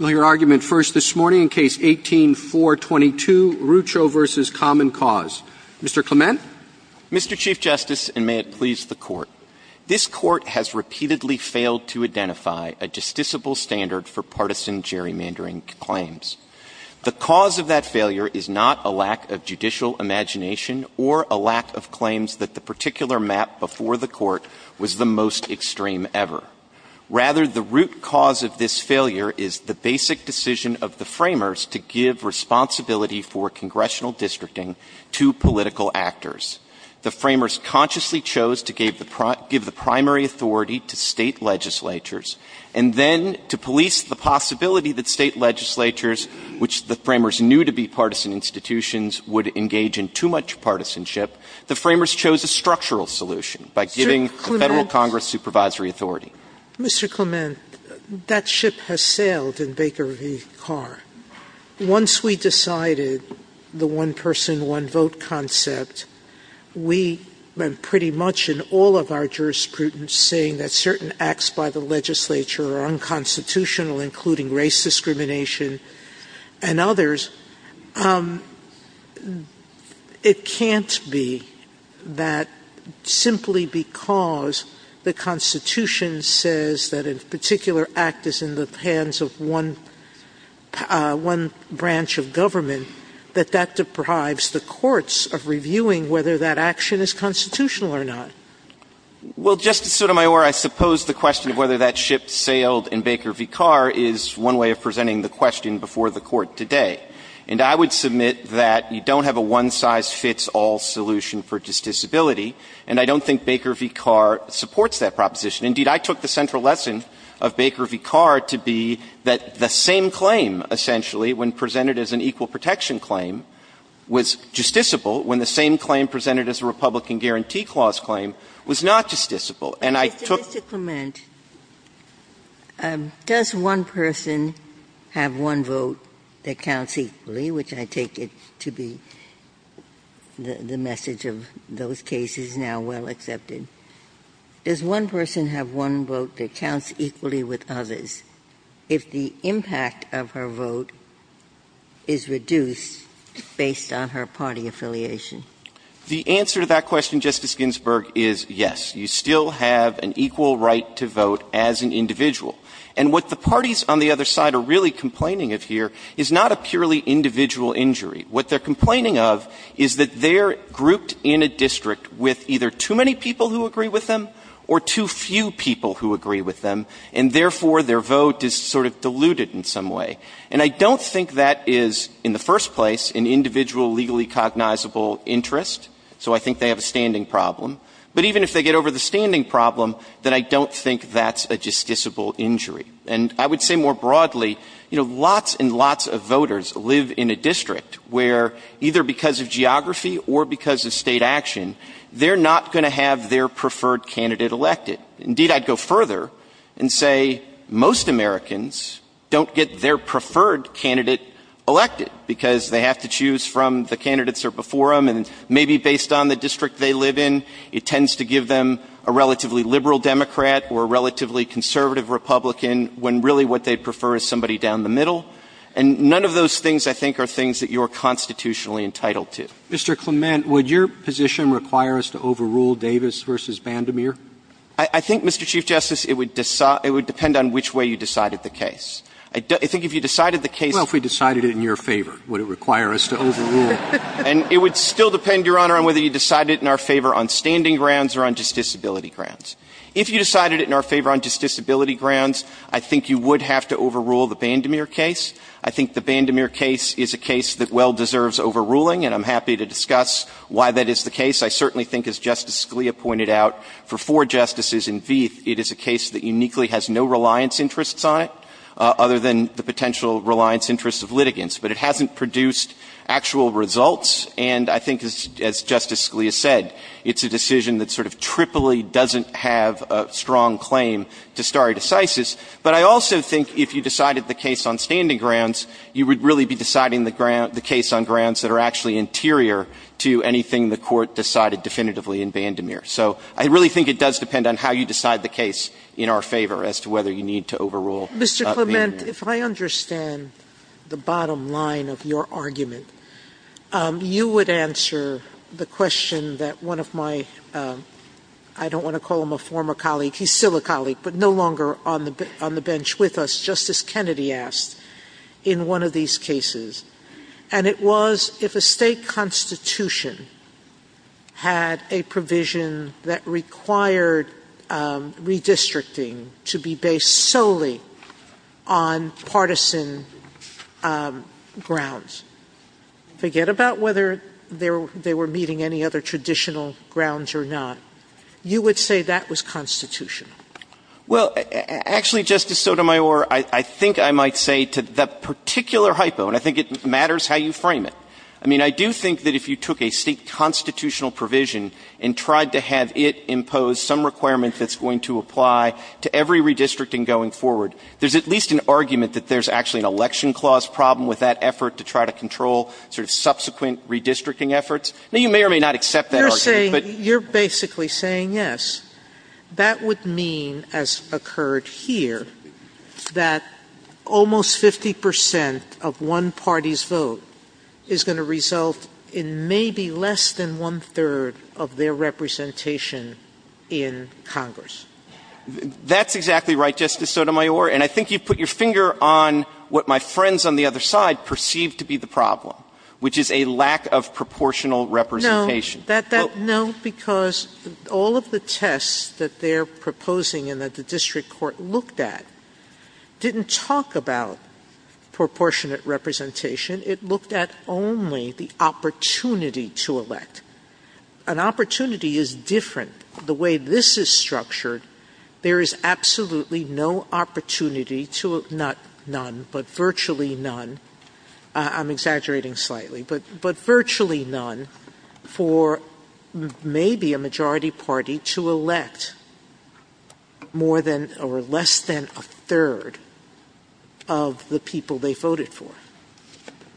Mr. Chief Justice, and may it please the Court, this Court has repeatedly failed to identify a justiciable standard for partisan gerrymandering claims. The cause of that failure is not a lack of judicial imagination or a lack of claims that the particular map before the Court was the most extreme ever. Rather, the root cause of this failure is the basic decision of the framers to give responsibility for congressional districting to political actors. The framers consciously chose to give the primary authority to state legislatures, and then to police the possibility that state legislatures, which the framers knew to be partisan institutions, would engage in too much partisanship, the framers chose a structural solution by giving the Federal Congress supervisory authority. Mr. Clement, that ship has sailed in Baker v. Carr. Once we decided the one person, one vote concept, we went pretty much in all of our jurisprudence saying that certain acts by the legislature are unconstitutional, including race discrimination and others. It can't be that simply because the Constitution says that a particular act is in the hands of one branch of government that that deprives the courts of reviewing whether that action is constitutional or not. Well, Justice Sotomayor, I suppose the question of whether that ship sailed in Baker v. Carr is one way of presenting the question before the Court today. And I would submit that you don't have a one-size-fits-all solution for justiciability, and I don't think Baker v. Carr supports that proposition. Indeed, I took the central lesson of Baker v. Carr to be that the same claim, essentially, when presented as an equal protection claim, was justiciable when the same claim presented as a Republican Guarantee Clause claim was not justiciable. But, Mr. Clement, does one person have one vote that counts equally, which I take it to be the message of those cases now well accepted? Does one person have one vote that counts equally with others if the impact of her vote is reduced based on her party affiliation? The answer to that question, Justice Ginsburg, is yes. You still have an equal right to vote as an individual. And what the parties on the other side are really complaining of here is not a purely individual injury. What they're complaining of is that they're grouped in a district with either too many people who agree with them or too few people who agree with them, and therefore their vote is sort of diluted in some way. And I don't think that is, in the first place, an individual legally cognizable interest. So I think they have a standing problem. But even if they get over the standing problem, then I don't think that's a justiciable injury. And I would say more broadly, you know, lots and lots of voters live in a district where either because of geography or because of state action, they're not going to have their preferred candidate elected. Indeed, I'd go further and say most Americans don't get their preferred candidate elected because they have to choose from the candidates that are before them. And maybe based on the district they live in, it tends to give them a relatively liberal Democrat or a relatively conservative Republican when really what they prefer is somebody down the middle. And none of those things, I think, are things that you are constitutionally entitled to. Mr. Clement, would your position require us to overrule Davis versus Bandemir? I think, Mr. Chief Justice, it would depend on which way you decided the case. Well, if we decided it in your favor, would it require us to overrule? And it would still depend, Your Honor, on whether you decided it in our favor on standing grounds or on justiciability grounds. If you decided it in our favor on justiciability grounds, I think you would have to overrule the Bandemir case. I think the Bandemir case is a case that well deserves overruling, and I'm happy to discuss why that is the case. I certainly think, as Justice Scalia pointed out, for four justices in Vieth, it is a case that uniquely has no reliance interests on it other than the potential reliance interests of litigants. But it hasn't produced actual results, and I think, as Justice Scalia said, it's a decision that sort of triply doesn't have a strong claim to stare decisis. But I also think if you decided the case on standing grounds, you would really be deciding the case on grounds that are actually interior to anything the Court decided definitively in Bandemir. So I really think it does depend on how you decide the case in our favor as to whether you need to overrule Bandemir. Mr. Clement, if I understand the bottom line of your argument, you would answer the question that one of my – I don't want to call him a former colleague. He's still a colleague, but no longer on the bench with us, Justice Kennedy asked, in one of these cases. And it was if a state constitution had a provision that required redistricting to be based solely on partisan grounds. Forget about whether they were meeting any other traditional grounds or not. You would say that was constitutional. Well, actually, Justice Sotomayor, I think I might say to that particular hypo, and I think it matters how you frame it. I mean, I do think that if you took a state constitutional provision and tried to have it impose some requirements that's going to apply to every redistricting going forward, there's at least an argument that there's actually an election clause problem with that effort to try to control subsequent redistricting efforts. You may or may not accept that argument. You're basically saying yes. That would mean, as occurred here, that almost 50 percent of one party's vote is going to result in maybe less than one-third of their representation in Congress. That's exactly right, Justice Sotomayor. And I think you put your finger on what my friends on the other side perceive to be the problem, which is a lack of proportional representation. No, because all of the tests that they're proposing and that the district court looked at didn't talk about proportionate representation. It looked at only the opportunity to elect. An opportunity is different. The way this is structured, there is absolutely no opportunity to, not none, but virtually none. I'm exaggerating slightly, but virtually none for maybe a majority party to elect more than or less than a third of the people they voted for.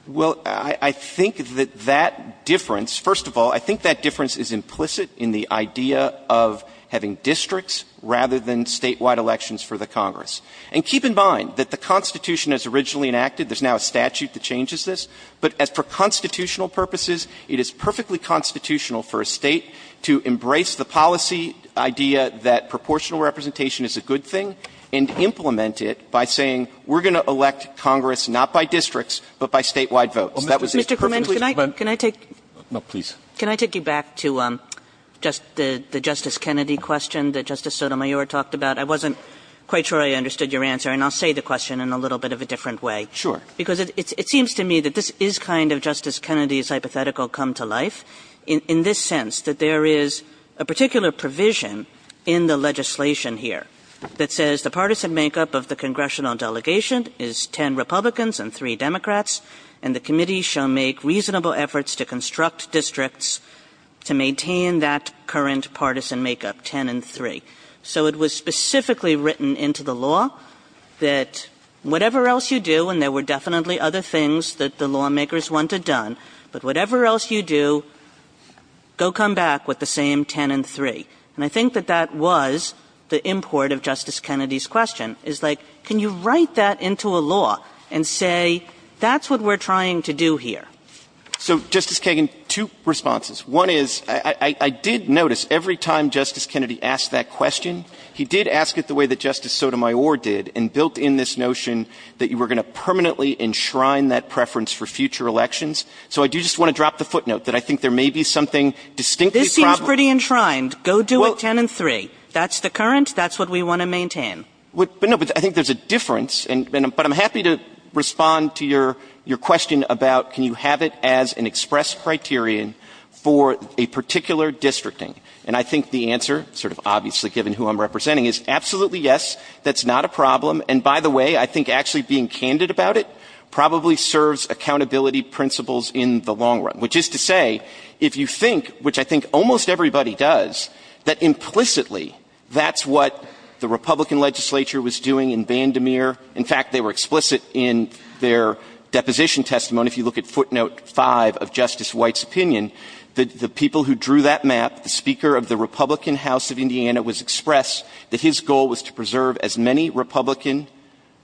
Well, I think that that difference, first of all, I think that difference is implicit in the idea of having districts rather than statewide elections for the Congress. And keep in mind that the Constitution as originally enacted, there's now a statute that changes this, but for constitutional purposes, it is perfectly constitutional for a state to embrace the policy idea that proportional representation is a good thing and implement it by saying, we're going to elect Congress not by districts, but by statewide votes. Can I take you back to the Justice Kennedy question that Justice Sotomayor talked about? I wasn't quite sure I understood your answer, and I'll say the question in a little bit of a different way. Sure. Because it seems to me that this is kind of Justice Kennedy's hypothetical come to life, in this sense that there is a particular provision in the legislation here that says the partisan makeup of the congressional delegation is 10 Republicans and 3 Democrats, and the committee shall make reasonable efforts to construct districts to maintain that current partisan makeup, 10 and 3. So it was specifically written into the law that whatever else you do, and there were definitely other things that the lawmakers wanted done, but whatever else you do, go come back with the same 10 and 3. And I think that that was the import of Justice Kennedy's question. It's like, can you write that into a law and say, that's what we're trying to do here? So, Justice Kagan, two responses. One is, I did notice every time Justice Kennedy asked that question, he did ask it the way that Justice Sotomayor did, and built in this notion that you were going to permanently enshrine that preference for future elections. So I do just want to drop the footnote that I think there may be something distinctly This seems pretty enshrined. Go do a 10 and 3. That's the current. That's what we want to maintain. But no, I think there's a difference. But I'm happy to respond to your question about can you have it as an express criterion for a particular districting? And I think the answer, sort of obviously given who I'm representing, is absolutely yes, that's not a problem. And by the way, I think actually being candid about it probably serves accountability principles in the long run. Which is to say, if you think, which I think almost everybody does, that implicitly, that's what the Republican legislature was doing in Vandermeer. In fact, they were explicit in their deposition testimony, if you look at footnote 5 of Justice White's opinion, that the people who drew that map, the Speaker of the Republican House of Indiana, was expressed that his goal was to preserve as many Republican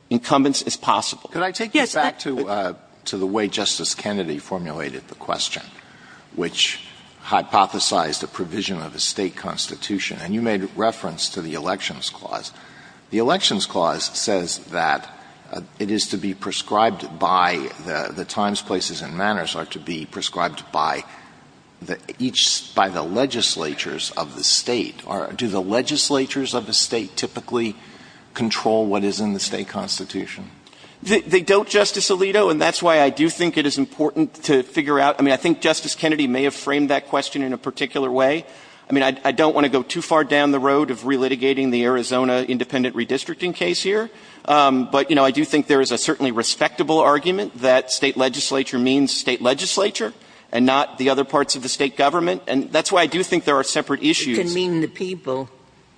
incumbents as possible. Can I take you back to the way Justice Kennedy formulated the question, which hypothesized the provision of a state constitution? And you made reference to the Elections Clause. The Elections Clause says that it is to be prescribed by the times, places, and manners, or to be prescribed by the legislatures of the state. Do the legislatures of the state typically control what is in the state constitution? They don't, Justice Alito, and that's why I do think it is important to figure out, I mean I think Justice Kennedy may have framed that question in a particular way. I don't want to go too far down the road of relitigating the Arizona independent redistricting case here, but I do think there is a certainly respectable argument that state legislature means state legislature, and not the other parts of the state government, and that's why I do think there are separate issues. It can mean the people.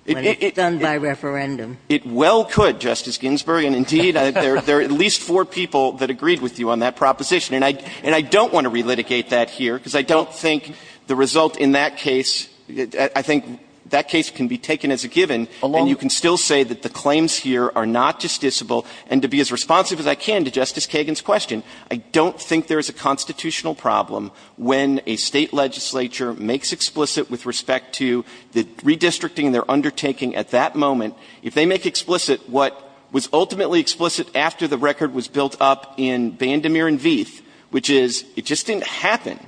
It's done by referendum. It well could, Justice Ginsburg, and indeed there are at least four people that agreed with you on that proposition. And I don't want to relitigate that here, because I don't think the result in that case, I think that case can be taken as a given, and you can still say that the claims here are not justiciable, and to be as responsive as I can to Justice Kagan's question, I don't think there is a constitutional problem when a state legislature makes explicit, with respect to the redistricting they're undertaking at that moment, if they make explicit what was ultimately explicit after the record was built up in Vandermeer and Veith, which is it just didn't happen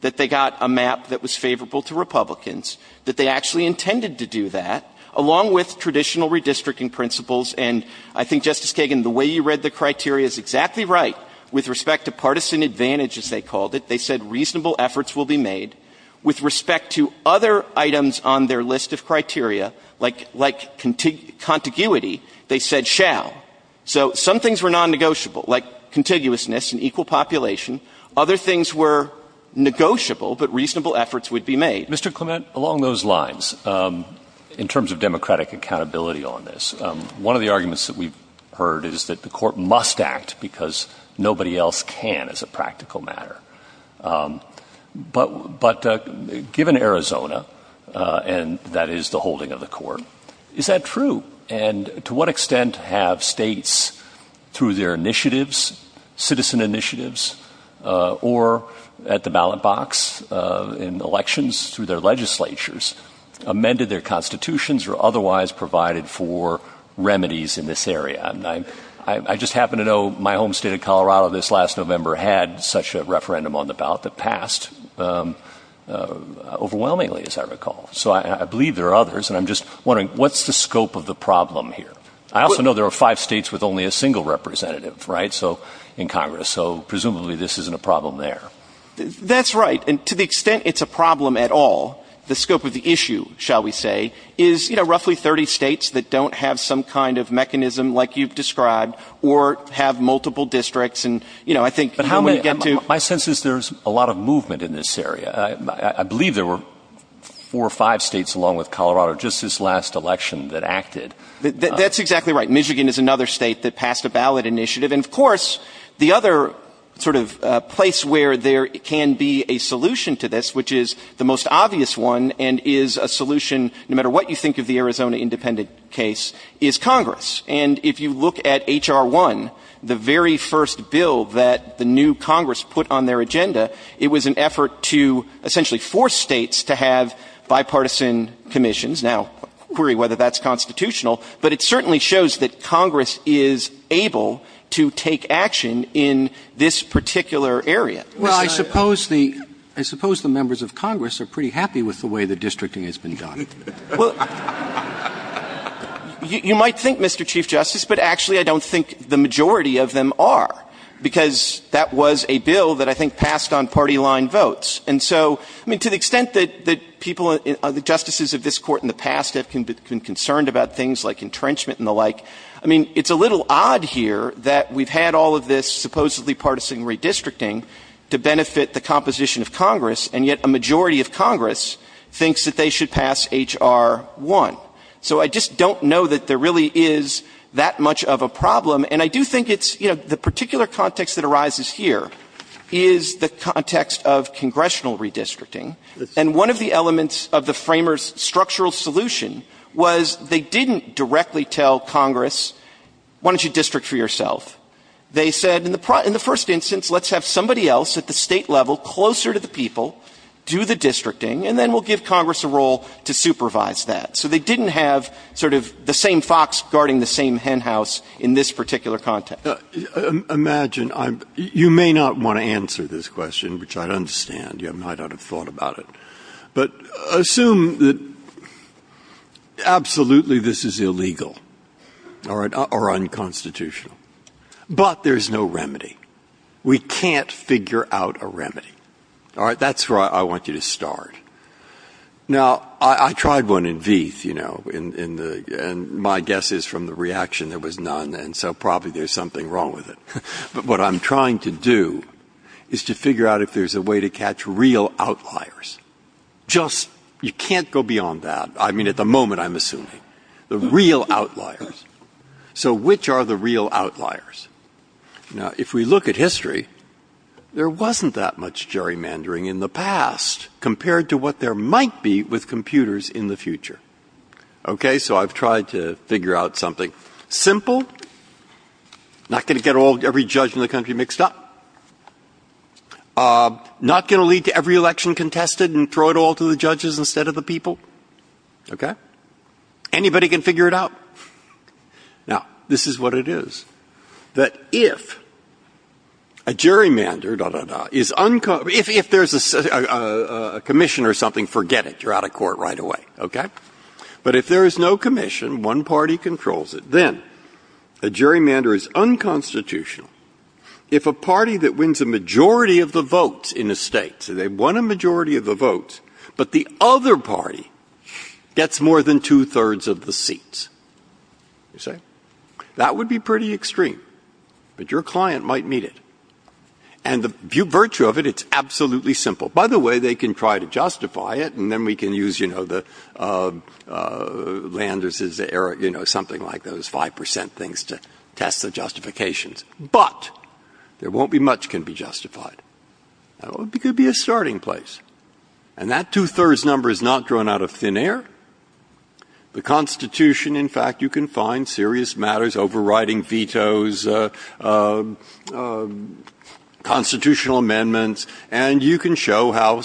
that they got a map that was favorable to Republicans, that they actually intended to do that, along with traditional redistricting principles, and I think, Justice Kagan, the way you read the criteria is exactly right. With respect to partisan advantage, as they called it, they said reasonable efforts will be made. With respect to other items on their list of criteria, like contiguity, they said shall. So some things were non-negotiable, like contiguousness and equal population. Other things were negotiable, but reasonable efforts would be made. Mr. Clement, along those lines, in terms of democratic accountability on this, one of the arguments that we've heard is that the Court must act because nobody else can as a practical matter. But given Arizona, and that is the holding of the Court, is that true? And to what extent have states, through their initiatives, citizen initiatives, or at the ballot box, in elections, through their legislatures, amended their constitutions or otherwise provided for remedies in this area? I just happen to know my home state of Colorado, this last November, had such a referendum on the ballot that passed overwhelmingly, as I recall. So I believe there are others, and I'm just wondering, what's the scope of the problem here? I also know there are five states with only a single representative in Congress, so presumably this isn't a problem there. That's right, and to the extent it's a problem at all, the scope of the issue, shall we say, is roughly 30 states that don't have some kind of mechanism like you've described, or have multiple districts. My sense is there's a lot of movement in this area. I believe there were four or five states, along with Colorado, just this last election that acted. That's exactly right. Michigan is another state that passed a ballot initiative. And of course, the other place where there can be a solution to this, which is the most obvious one and is a solution no matter what you think of the Arizona independent case, is Congress. And if you look at H.R. 1, the very first bill that the new Congress put on their agenda, it was an effort to essentially force states to have bipartisan commissions. Now, query whether that's constitutional, but it certainly shows that Congress is able to take action in this particular area. Well, I suppose the members of Congress are pretty happy with the way the districting has been done. Well, you might think, Mr. Chief Justice, but actually I don't think the majority of them are, because that was a bill that I think passed on party-line votes. And so, I mean, to the extent that the justices of this court in the past have been concerned about things like entrenchment and the like, I mean, it's a little odd here that we've had all of this supposedly partisan redistricting to benefit the composition of Congress, and yet a majority of Congress thinks that they should pass H.R. 1. So, I just don't know that there really is that much of a problem. And I do think it's, you know, the particular context that arises here is the context of congressional redistricting. And one of the elements of the framers' structural solution was they didn't directly tell Congress, why don't you district for yourself? They said, in the first instance, let's have somebody else at the state level closer to the people do the districting, and then we'll give Congress a role to supervise that. So, they didn't have sort of the same fox guarding the same hen house in this particular context. Imagine, you may not want to answer this question, which I understand. You might not have thought about it. But assume that absolutely this is illegal or unconstitutional. But there's no remedy. We can't figure out a remedy. All right, that's where I want you to start. Now, I tried one in V, you know, and my guess is from the reaction it was none, and so probably there's something wrong with it. But what I'm trying to do is to figure out if there's a way to catch real outliers. Just, you can't go beyond that. I mean, at the moment, I'm assuming. The real outliers. So, which are the real outliers? Now, if we look at history, there wasn't that much gerrymandering in the past, compared to what there might be with computers in the future. Okay? So, I've tried to figure out something simple. Not going to get every judge in the country mixed up. Not going to lead to every election contested and throw it all to the judges instead of the people. Okay? Anybody can figure it out. Now, this is what it is. That if a gerrymander is unconstitutional. If there's a commission or something, forget it. You're out of court right away. Okay? But if there is no commission, one party controls it. Then, a gerrymander is unconstitutional. If a party that wins a majority of the votes in the states, and they've won a majority of the votes, but the other party gets more than two-thirds of the seats. Okay? That would be pretty extreme. But your client might meet it. And the virtue of it, it's absolutely simple. By the way, they can try to justify it, and then we can use, you know, the Landis' era, you know, something like those 5% things to test the justifications. But there won't be much that can be justified. It could be a starting place. And that two-thirds number is not drawn out of thin air. The Constitution, in fact, you can find serious matters, overriding vetoes, constitutional amendments, and you can show how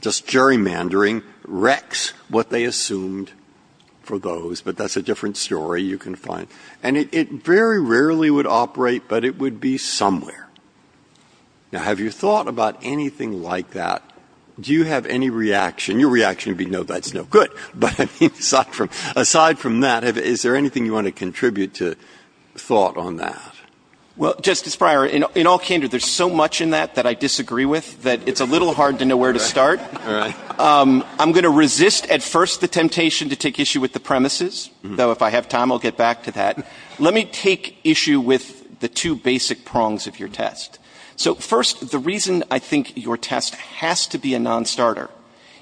just gerrymandering wrecks what they assumed for those. But that's a different story you can find. And it very rarely would operate, but it would be somewhere. Now, have you thought about anything like that? Do you have any reaction? Your reaction would be, no, that's no good. But aside from that, is there anything you want to contribute to thought on that? Well, Justice Breyer, in all candor, there's so much in that that I disagree with that it's a little hard to know where to start. All right. I'm going to resist at first the temptation to take issue with the premises. So if I have time, I'll get back to that. Let me take issue with the two basic prongs of your test. So, first, the reason I think your test has to be a nonstarter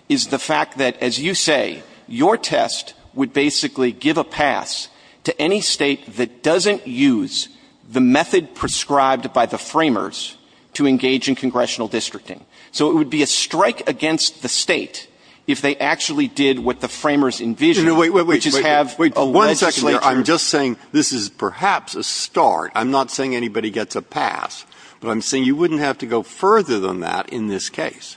is the fact that, as you say, your test would basically give a pass to any state that doesn't use the method prescribed by the framers to engage in congressional districting. So it would be a strike against the state if they actually did what the framers envisioned, which is have a legislature. Justice Breyer, I'm just saying this is perhaps a start. I'm not saying anybody gets a pass. I'm saying you wouldn't have to go further than that in this case.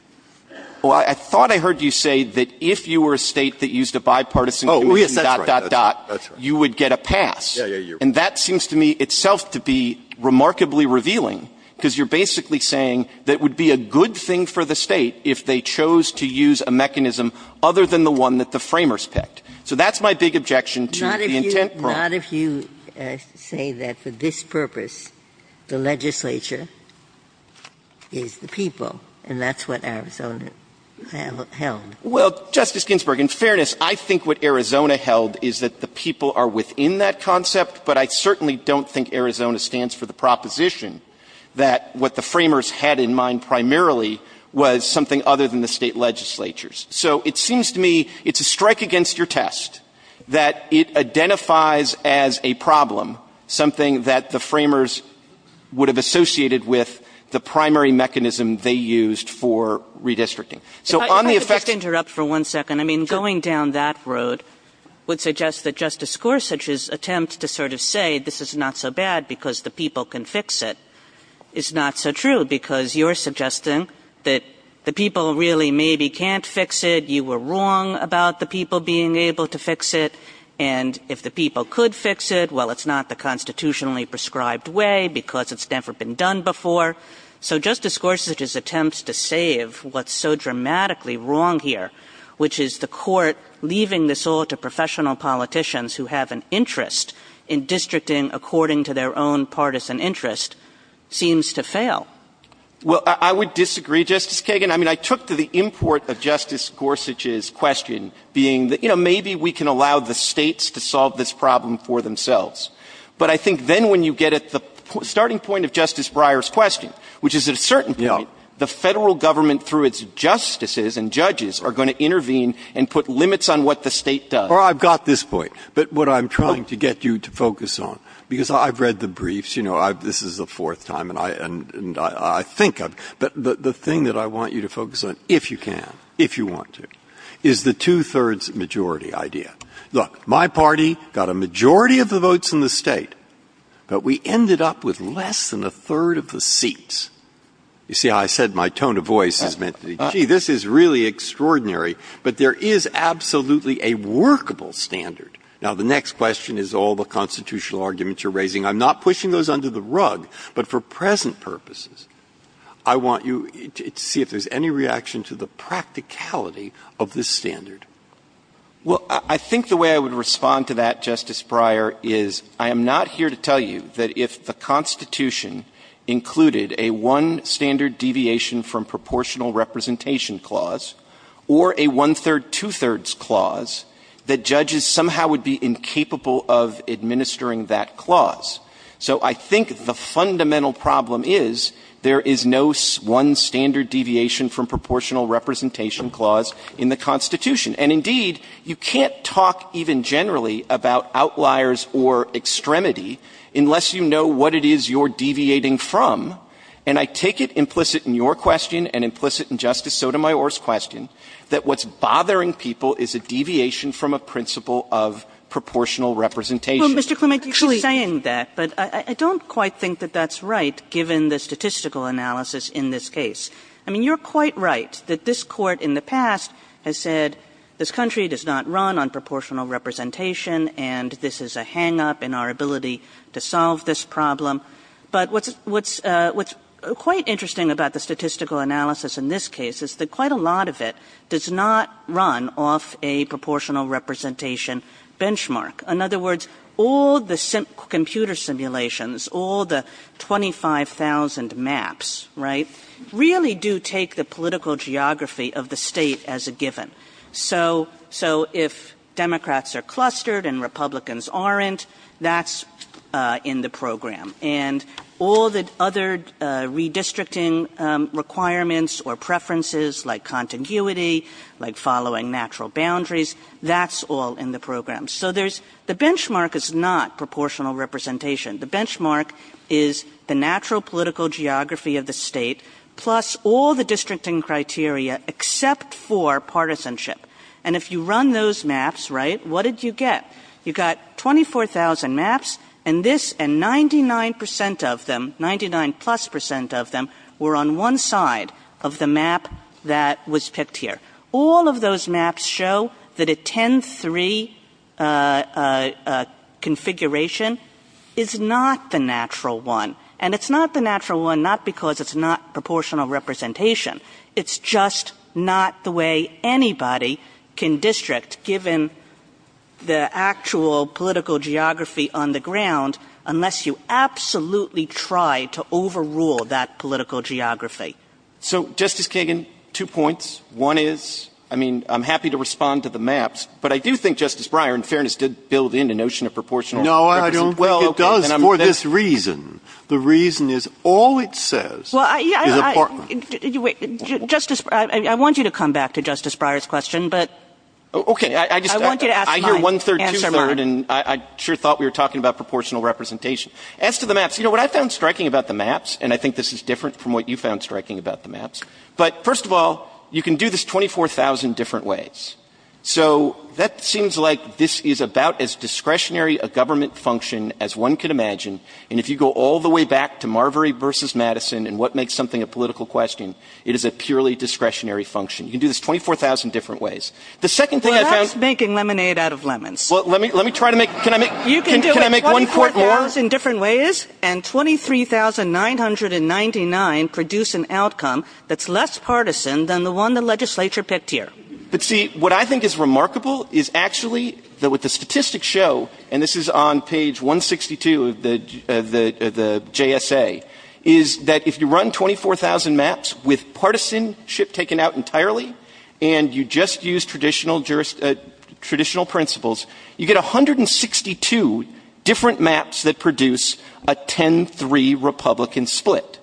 Well, I thought I heard you say that if you were a state that used a bipartisan commission, dot, dot, dot, you would get a pass. And that seems to me itself to be remarkably revealing because you're basically saying that it would be a good thing for the state if they chose to use a mechanism other than the one that the framers picked. So that's my big objection to the intent prong. Not if you say that for this purpose, the legislature is the people, and that's what Arizona held. Well, Justice Ginsburg, in fairness, I think what Arizona held is that the people are within that concept, but I certainly don't think Arizona stands for the proposition that what the framers had in mind primarily was something other than the state legislatures. So it seems to me it's a strike against your test that it identifies as a problem something that the framers would have associated with the primary mechanism they used for redistricting. If I could just interrupt for one second. I mean, going down that road would suggest that Justice Gorsuch's attempt to sort of say this is not so bad because the people can fix it is not so true because you're suggesting that the people really maybe can't fix it, you were wrong about the people being able to fix it, and if the people could fix it, well, it's not the constitutionally prescribed way because it's never been done before. So Justice Gorsuch's attempts to save what's so dramatically wrong here, which is the court leaving this all to professional politicians who have an interest in districting according to their own partisan interest, seems to fail. Well, I would disagree, Justice Kagan. I mean, I took to the import of Justice Gorsuch's question being, you know, maybe we can allow the states to solve this problem for themselves. But I think then when you get at the starting point of Justice Breyer's question, which is at a certain point, the federal government through its justices and judges are going to intervene and put limits on what the state does. Well, I've got this point. But what I'm trying to get you to focus on, because I've read the briefs, you know, this is the fourth time and I think, but the thing that I want you to focus on, if you can, if you want to, is the two-thirds majority idea. Look, my party got a majority of the votes in the state, but we ended up with less than a third of the seats. You see, I said my tone of voice is meant to be, gee, this is really extraordinary. But there is absolutely a workable standard. Now, the next question is all the constitutional arguments you're raising. I'm not pushing those under the rug. But for present purposes, I want you to see if there's any reaction to the practicality of this standard. Well, I think the way I would respond to that, Justice Breyer, is I am not here to tell you that if the Constitution included a one-standard deviation from proportional representation clause or a one-third, two-thirds clause, that judges somehow would be incapable of administering that clause. So I think the fundamental problem is there is no one-standard deviation from proportional representation clause in the Constitution. And, indeed, you can't talk even generally about outliers or extremity unless you know what it is you're deviating from. And I take it implicit in your question and implicit in Justice Sotomayor's question that what's bothering people is a deviation from a principle of proportional representation. Well, Mr. Clement, you keep saying that, but I don't quite think that that's right given the statistical analysis in this case. I mean, you're quite right that this court in the past has said this country does not run on proportional representation and this is a hang-up in our ability to solve this problem. But what's quite interesting about the statistical analysis in this case is that quite a lot of it does not run off a proportional representation benchmark. In other words, all the computer simulations, all the 25,000 maps, right, really do take the political geography of the state as a given. So if Democrats are clustered and Republicans aren't, that's in the program. And all the other redistricting requirements or preferences like contiguity, like following natural boundaries, that's all in the program. So the benchmark is not proportional representation. The benchmark is the natural political geography of the state plus all the districting criteria except for partisanship. And if you run those maps, right, what did you get? You got 24,000 maps and this and 99% of them, 99 plus percent of them, were on one side of the map that was picked here. All of those maps show that a 10-3 configuration is not the natural one. And it's not the natural one not because it's not proportional representation. It's just not the way anybody can district given the actual political geography on the ground unless you absolutely try to overrule that political geography. So Justice Kagan, two points. One is, I mean, I'm happy to respond to the maps, but I do think Justice Breyer, in fairness, did build in the notion of proportional representation. No, I don't. Well, it does for this reason. The reason is all it says is important. Justice, I want you to come back to Justice Breyer's question, but I want you to ask my answer first. I hear one-third, two-thirds, and I sure thought we were talking about proportional representation. As to the maps, you know what I found striking about the maps, and I think this is different from what you found striking about the maps. But first of all, you can do this 24,000 different ways. So that seems like this is about as discretionary a government function as one could imagine. And if you go all the way back to Marbury versus Madison and what makes something a political question, it is a purely discretionary function. You can do this 24,000 different ways. The second thing I found- Stop making lemonade out of lemons. Well, let me try to make- You can do it 24,000 different ways and 23,999 produce an outcome that is less partisan than the one the legislature picked here. See, what I think is remarkable is actually that with the statistics show, and this is on page 162 of the JSA, is that if you run 24,000 maps with partisanship taken out entirely and you just use traditional principles, you get 162 different maps that produce a 10-3 Republican split.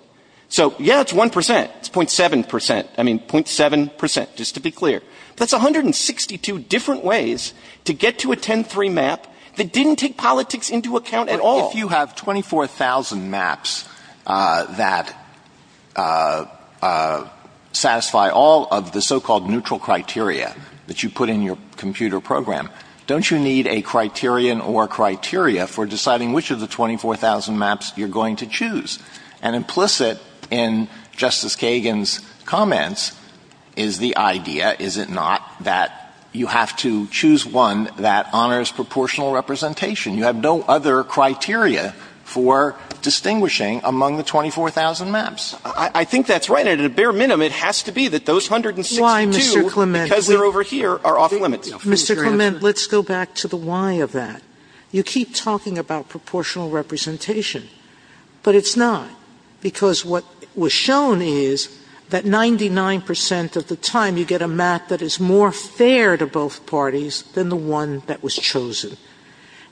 So, yeah, it's 1%. It's 0.7%. I mean, 0.7%, just to be clear. That's 162 different ways to get to a 10-3 map that didn't take politics into account at all. If you have 24,000 maps that satisfy all of the so-called neutral criteria that you put in your computer program, don't you need a criterion or criteria for deciding which of the 24,000 maps you're going to choose? And implicit in Justice Kagan's comments is the idea, is it not, that you have to choose one that honors proportional representation. You have no other criteria for distinguishing among the 24,000 maps. I think that's right. At a bare minimum, it has to be that those 162, because they're over here, are off-limits. Mr. Clement, let's go back to the why of that. You keep talking about proportional representation, but it's not, because what was shown is that 99% of the time you get a map that is more fair to both parties than the one that was chosen.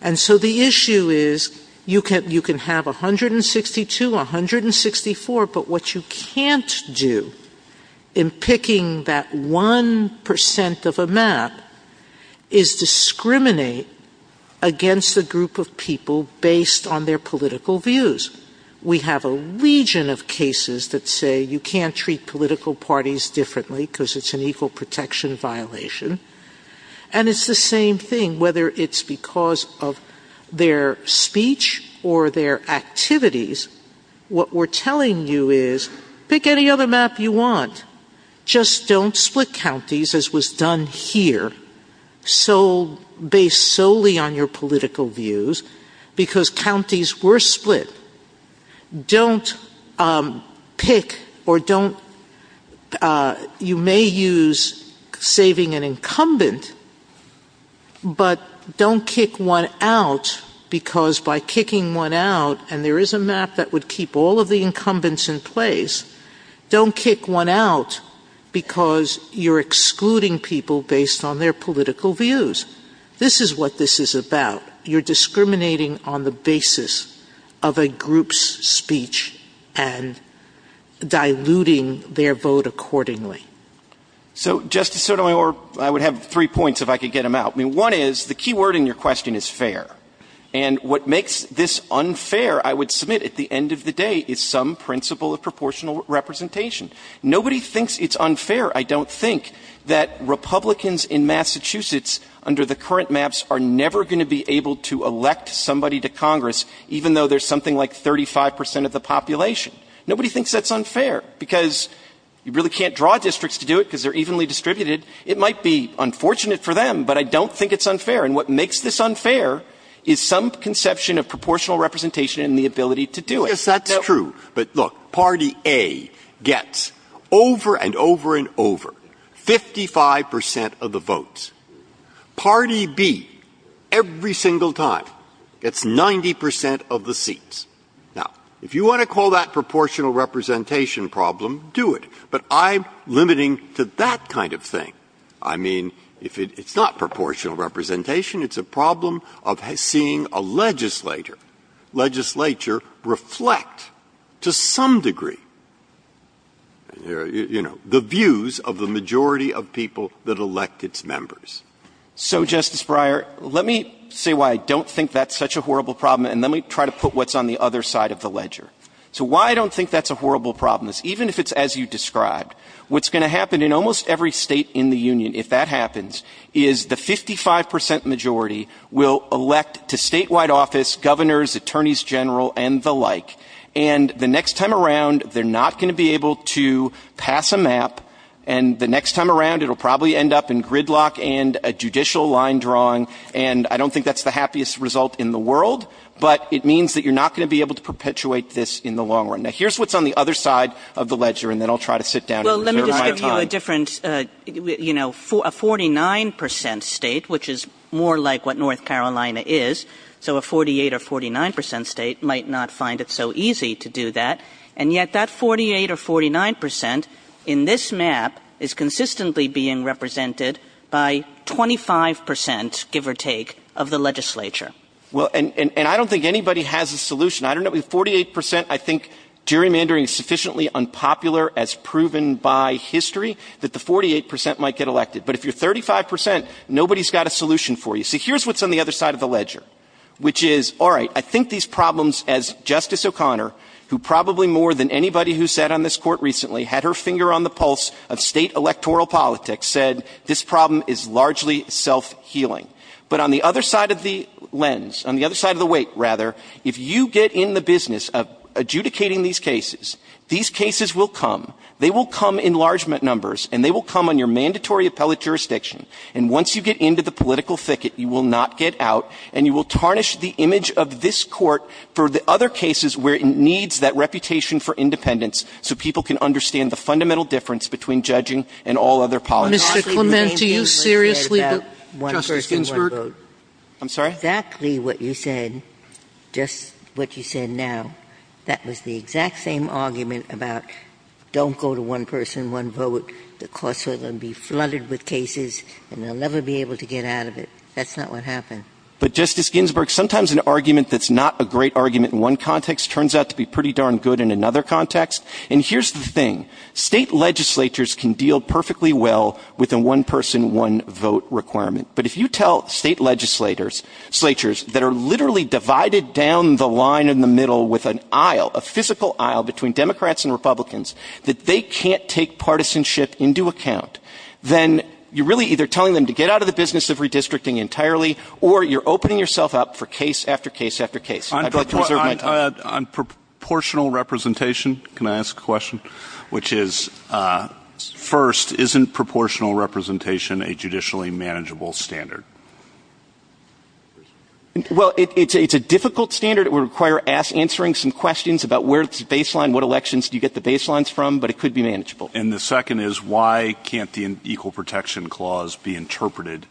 And so the issue is you can have 162, 164, but what you can't do in picking that 1% of a map is discriminate against a group of people based on their political views. We have a region of cases that say you can't treat political parties differently because it's an equal protection violation. And it's the same thing whether it's because of their speech or their activities. What we're telling you is pick any other map you want. Just don't split counties, as was done here, based solely on your political views, because counties were split. Don't pick, or you may use saving an incumbent, but don't kick one out, because by kicking one out, and there is a map that would keep all of the incumbents in place, don't kick one out because you're excluding people based on their political views. This is what this is about. You're discriminating on the basis of a group's speech and diluting their vote accordingly. So, Justice Sotomayor, I would have three points if I could get them out. One is, the key word in your question is fair. And what makes this unfair, I would submit at the end of the day, is some principle of proportional representation. Nobody thinks it's unfair, I don't think, that Republicans in Massachusetts, under the current maps, are never going to be able to elect somebody to Congress, even though there's something like 35% of the population. Nobody thinks that's unfair, because you really can't draw districts to do it because they're evenly distributed. It might be unfortunate for them, but I don't think it's unfair. And what makes this unfair is some conception of proportional representation and the ability to do it. Yes, that's true. But look, Party A gets, over and over and over, 55% of the votes. Party B, every single time, gets 90% of the seats. Now, if you want to call that proportional representation problem, do it. But I'm limiting to that kind of thing. I mean, it's not proportional representation, it's a problem of seeing a legislature, reflect, to some degree, the views of the majority of people that elect its members. So, Justice Breyer, let me say why I don't think that's such a horrible problem, and let me try to put what's on the other side of the ledger. So, why I don't think that's a horrible problem is, even if it's as you described, what's going to happen in almost every state in the Union, if that happens, is the 55% majority will elect the statewide office, governors, attorneys general, and the like. And the next time around, they're not going to be able to pass a map, and the next time around, it'll probably end up in gridlock and a judicial line drawing, and I don't think that's the happiest result in the world, but it means that you're not going to be able to perpetuate this in the long run. Now, here's what's on the other side of the ledger, and then I'll try to sit down and clarify. Let me give you a different, you know, a 49% state, which is more like what North Carolina is, so a 48 or 49% state might not find it so easy to do that, and yet that 48 or 49% in this map is consistently being represented by 25%, give or take, of the legislature. Well, and I don't think anybody has a solution. I think gerrymandering is sufficiently unpopular as proven by history that the 48% might get elected, but if you're 35%, nobody's got a solution for you. So here's what's on the other side of the ledger, which is, all right, I think these problems, as Justice O'Connor, who probably more than anybody who sat on this court recently, had her finger on the pulse of state electoral politics, said this problem is largely self-healing. But on the other side of the lens, on the other side of the weight, rather, if you get in the business of adjudicating these cases, these cases will come. They will come in large numbers, and they will come on your mandatory appellate jurisdiction. And once you get into the political thicket, you will not get out, and you will tarnish the image of this court for the other cases where it needs that reputation for independence so people can understand the fundamental difference between judging and all other politics. Mr. Clement, do you seriously believe that one person won't vote? I'm sorry? That's exactly what you said, just what you said now. That was the exact same argument about don't go to one person, one vote. The courts are going to be flooded with cases, and they'll never be able to get out of it. That's not what happened. But, Justice Ginsburg, sometimes an argument that's not a great argument in one context turns out to be pretty darn good in another context. And here's the thing. State legislatures can deal perfectly well with a one-person, one-vote requirement. But if you tell state legislatures that are literally divided down the line in the middle with an aisle, a physical aisle between Democrats and Republicans, that they can't take partisanship into account, then you're really either telling them to get out of the business of redistricting entirely, or you're opening yourself up for case after case after case. Which is, first, isn't proportional representation a judicially manageable standard? Well, it's a difficult standard. It would require answering some questions about where it's baseline, what elections do you get the baselines from, but it could be manageable. And the second is, why can't the Equal Protection Clause be interpreted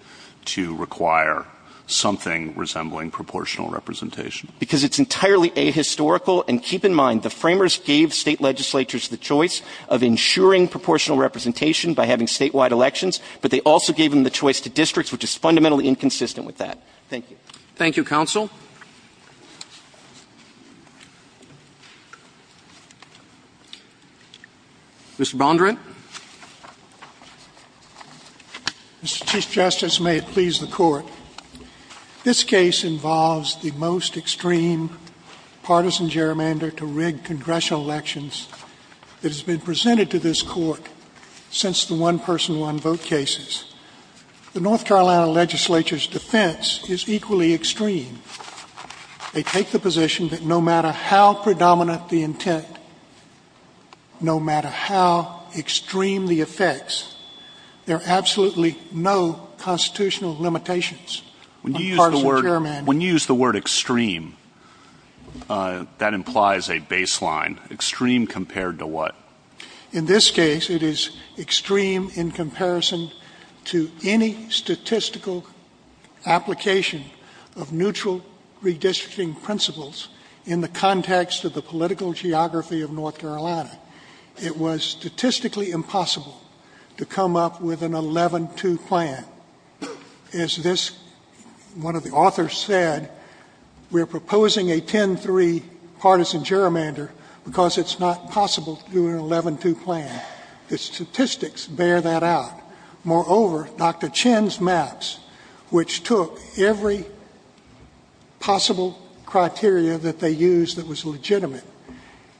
to require something resembling proportional representation? Because it's entirely ahistorical. And keep in mind, the framers gave state legislatures the choice of ensuring proportional representation by having statewide elections, but they also gave them the choice to districts, which is fundamentally inconsistent with that. Thank you. Thank you, Counsel. Mr. Bondurant. Mr. Chief Justice, may it please the Court. This case involves the most extreme partisan gerrymander to rig congressional elections that has been presented to this Court since the one-person, one-vote cases. The North Carolina legislature's defense is equally extreme. They take the position that no matter how predominant the intent, no matter how extreme the effects, there are absolutely no constitutional limitations. When you use the word extreme, that implies a baseline. Extreme compared to what? In this case, it is extreme in comparison to any statistical application of neutral redistricting principles in the context of the political geography of North Carolina. It was statistically impossible to come up with an 11-2 plan. As one of the authors said, we're proposing a 10-3 partisan gerrymander because it's not possible to do an 11-2 plan. The statistics bear that out. Moreover, Dr. Chen's maps, which took every possible criteria that they used that was legitimate,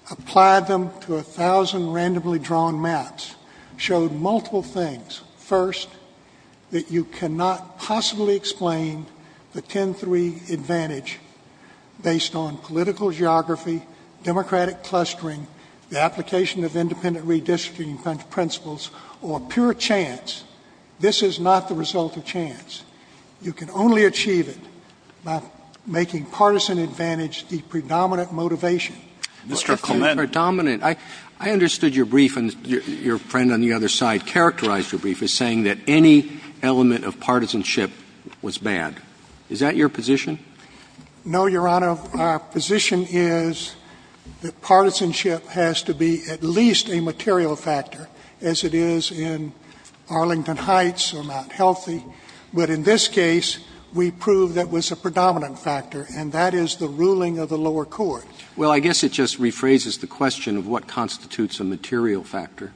applied them to a thousand randomly drawn maps, showed multiple things. First, that you cannot possibly explain the 10-3 advantage based on political geography, democratic clustering, the application of independent redistricting principles, or pure chance. This is not the result of chance. You can only achieve it by making partisan advantage the predominant motivation. Mr. Clement. The predominant. I understood your brief and your friend on the other side characterized your brief as saying that any element of partisanship was bad. Is that your position? No, Your Honor. Our position is that partisanship has to be at least a material factor, as it is in Arlington Heights or Mount Healthy. But in this case, we proved that was a predominant factor, and that is the ruling of the lower court. Well, I guess it just rephrases the question of what constitutes a material factor.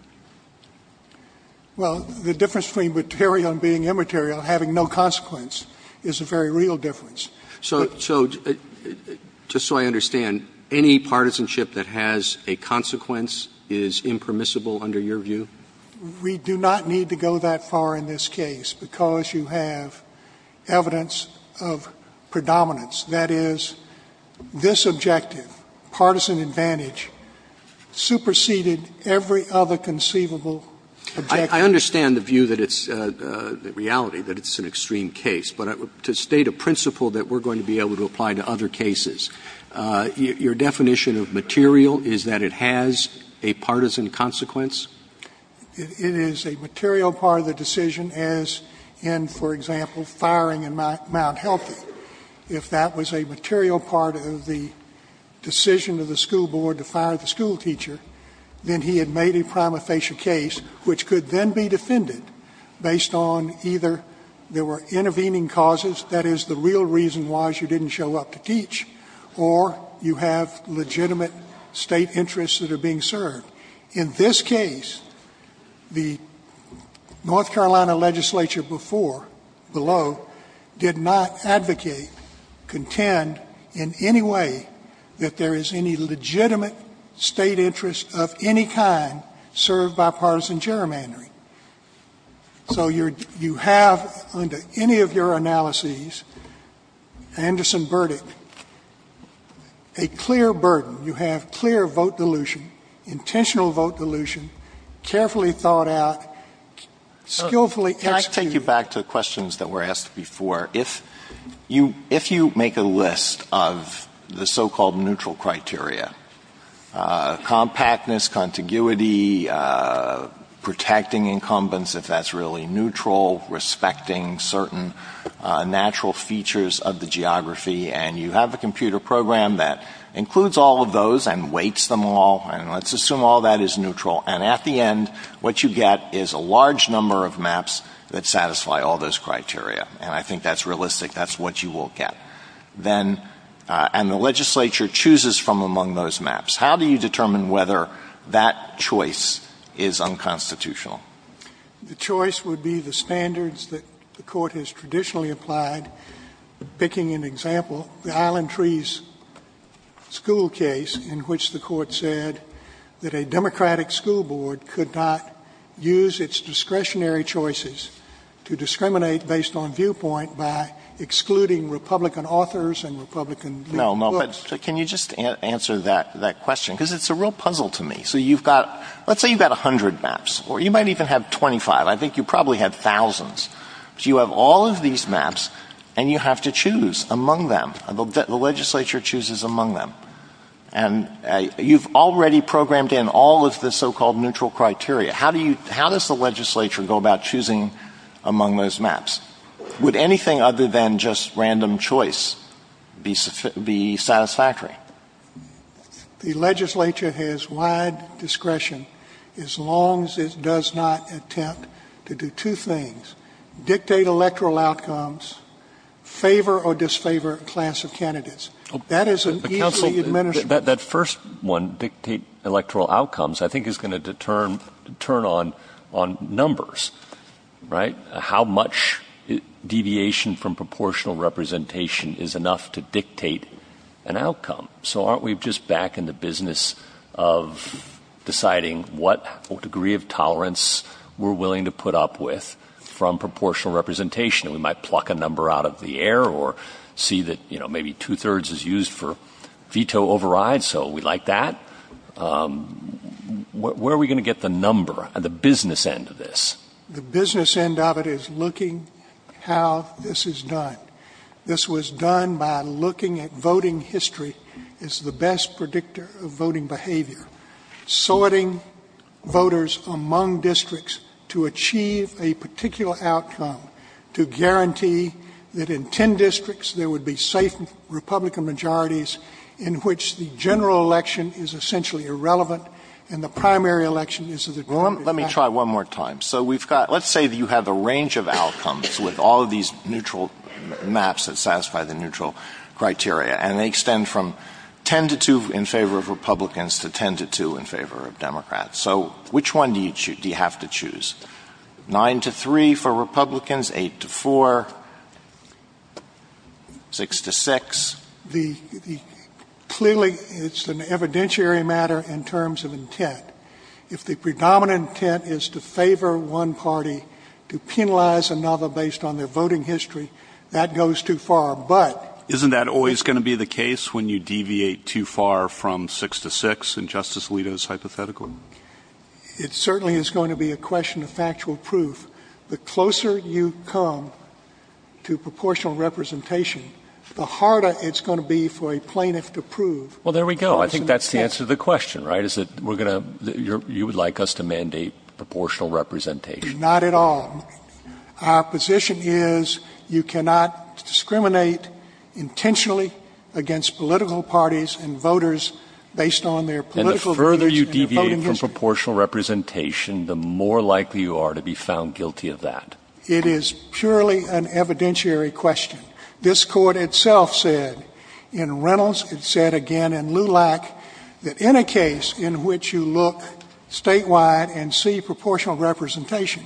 Well, the difference between material and being immaterial, having no consequence, is a very real difference. So just so I understand, any partisanship that has a consequence is impermissible under your view? We do not need to go that far in this case because you have evidence of predominance. That is, this objective, partisan advantage, superseded every other conceivable objective. I understand the view that it's the reality that it's an extreme case, but to state a principle that we're going to be able to apply to other cases, your definition of material is that it has a partisan consequence? It is a material part of the decision as in, for example, firing in Mount Healthy. If that was a material part of the decision of the school board to fire the school teacher, then he had made a prima facie case which could then be defended based on either there were intervening causes, that is, the real reason why she didn't show up to teach, or you have legitimate State interests that are being served. In this case, the North Carolina legislature before, below, did not advocate, contend in any way that there is any legitimate State interest of any kind served by partisan gerrymandering. So you have, under any of your analyses, an Anderson verdict, a clear burden. You have clear vote dilution, intentional vote dilution, carefully thought out, skillfully executed. To get back to questions that were asked before, if you make a list of the so-called neutral criteria, compactness, contiguity, protecting incumbents if that's really neutral, respecting certain natural features of the geography, and you have a computer program that includes all of those and weights them all, and let's assume all of that is neutral, and at the end what you get is a large number of maps that satisfy all those criteria. And I think that's realistic. That's what you will get. And the legislature chooses from among those maps. How do you determine whether that choice is unconstitutional? The choice would be the standards that the Court has traditionally applied. Picking an example, the Island Trees school case in which the Court said that a Democratic school board could not use its discretionary choices to discriminate based on viewpoint by excluding Republican authors and Republican viewpoints. No, no. Can you just answer that question? Because it's a real puzzle to me. So you've got, let's say you've got 100 maps, or you might even have 25. I think you probably have thousands. So you have all of these maps, and you have to choose among them. The legislature chooses among them. And you've already programmed in all of the so-called neutral criteria. How does the legislature go about choosing among those maps? Would anything other than just random choice be satisfactory? The legislature has wide discretion as long as it does not attempt to do two things. Dictate electoral outcomes, favor or disfavor a class of candidates. That is an easy administration. That first one, dictate electoral outcomes, I think is going to turn on numbers, right? How much deviation from proportional representation is enough to dictate an outcome? So aren't we just back in the business of deciding what degree of tolerance we're willing to put up with from proportional representation? We might pluck a number out of the air or see that maybe two-thirds is used for veto override, so we like that. Where are we going to get the number on the business end of this? The business end of it is looking how this is done. This was done by looking at voting history as the best predictor of voting behavior, sorting voters among districts to achieve a particular outcome to guarantee that in 10 districts there would be safe Republican majorities in which the general election is essentially irrelevant and the primary election is the norm. Let me try one more time. So let's say you have a range of outcomes with all these neutral maps that satisfy the neutral criteria, and they extend from 10 to 2 in favor of Republicans to 10 to 2 in favor of Democrats. So which one do you have to choose? 9 to 3 for Republicans, 8 to 4, 6 to 6? Clearly, it's an evidentiary matter in terms of intent. If the predominant intent is to favor one party to penalize another based on their voting history, that goes too far. Isn't that always going to be the case when you deviate too far from 6 to 6 in Justice Alito's hypothetical? It certainly is going to be a question of factual proof. The closer you come to proportional representation, the harder it's going to be for a plaintiff to prove. Well, there we go. I think that's the answer to the question, right? You would like us to mandate proportional representation. Not at all. Our position is you cannot discriminate intentionally against political parties and voters based on their political history. And the further you deviate from proportional representation, the more likely you are to be found guilty of that. It is purely an evidentiary question. This court itself said, in Reynolds, it said again in Lulak, that in a case in which you look statewide and see proportional representation,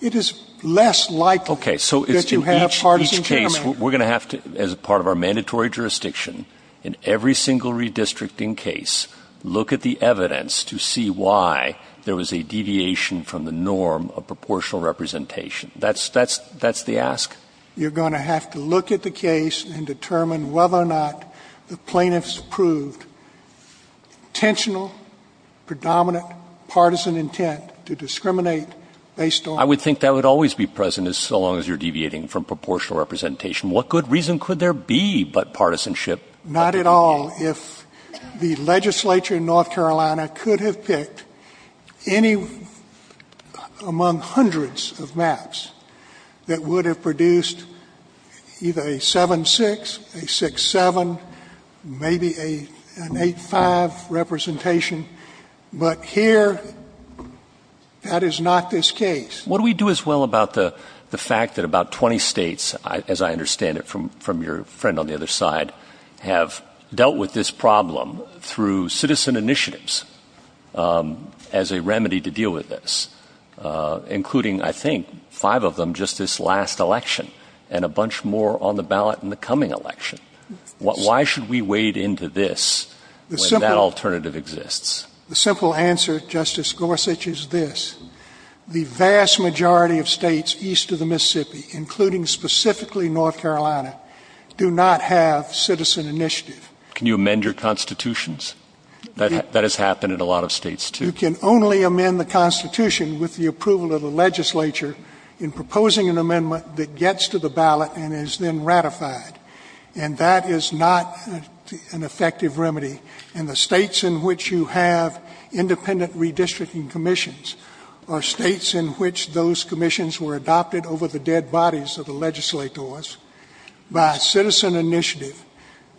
it is less likely that you have a partisan chairman. We're going to have to, as part of our mandatory jurisdiction, in every single redistricting case, look at the evidence to see why there was a deviation from the norm of proportional representation. That's the ask. You're going to have to look at the case and determine whether or not the plaintiffs proved intentional, predominant, partisan intent to discriminate based on... I would think that would always be present as long as you're deviating from proportional representation. What good reason could there be but partisanship? Not at all. If the legislature in North Carolina could have picked any among hundreds of maps that would have produced either a 7-6, a 6-7, maybe an 8-5 representation. But here, that is not this case. What do we do as well about the fact that about 20 states, as I understand it from your friend on the other side, have dealt with this problem through citizen initiatives as a remedy to deal with this? Including, I think, five of them just this last election and a bunch more on the ballot in the coming election. Why should we wade into this when that alternative exists? The simple answer, Justice Gorsuch, is this. The vast majority of states east of the Mississippi, including specifically North Carolina, do not have citizen initiative. Can you amend your constitutions? That has happened in a lot of states, too. You can only amend the constitution with the approval of the legislature in proposing an amendment that gets to the ballot and is then ratified. And that is not an effective remedy. And the states in which you have independent redistricting commissions are states in which those commissions were adopted over the dead bodies of the legislators by citizen initiative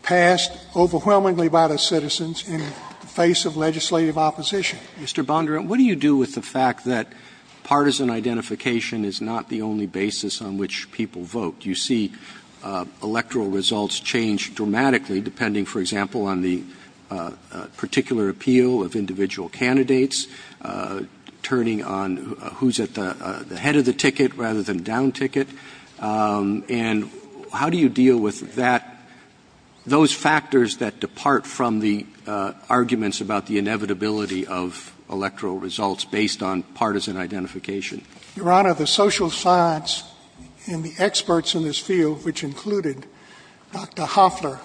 passed overwhelmingly by the citizens in the face of legislative opposition. Mr. Bondurant, what do you do with the fact that partisan identification is not the only basis on which people vote? You see electoral results change dramatically depending, for example, on the particular appeal of individual candidates, turning on who's at the head of the ticket rather than down ticket. And how do you deal with that, those factors that depart from the arguments about the inevitability of electoral results based on partisan identification? Your Honor, the social science and the experts in this field, which included Dr. Hofler,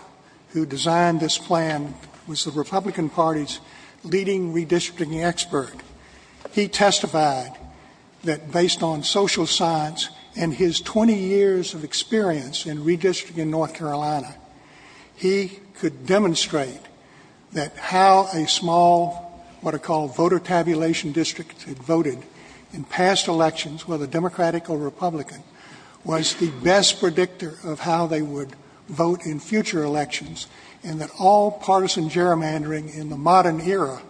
who designed this plan, was the Republican Party's leading redistricting expert. He testified that based on social science and his 20 years of experience in redistricting North Carolina, he could demonstrate that how a small, what are called voter tabulation district voted in past elections, whether Democratic or Republican, was the best predictor of how they would vote in future elections. And that all partisan gerrymandering in the modern era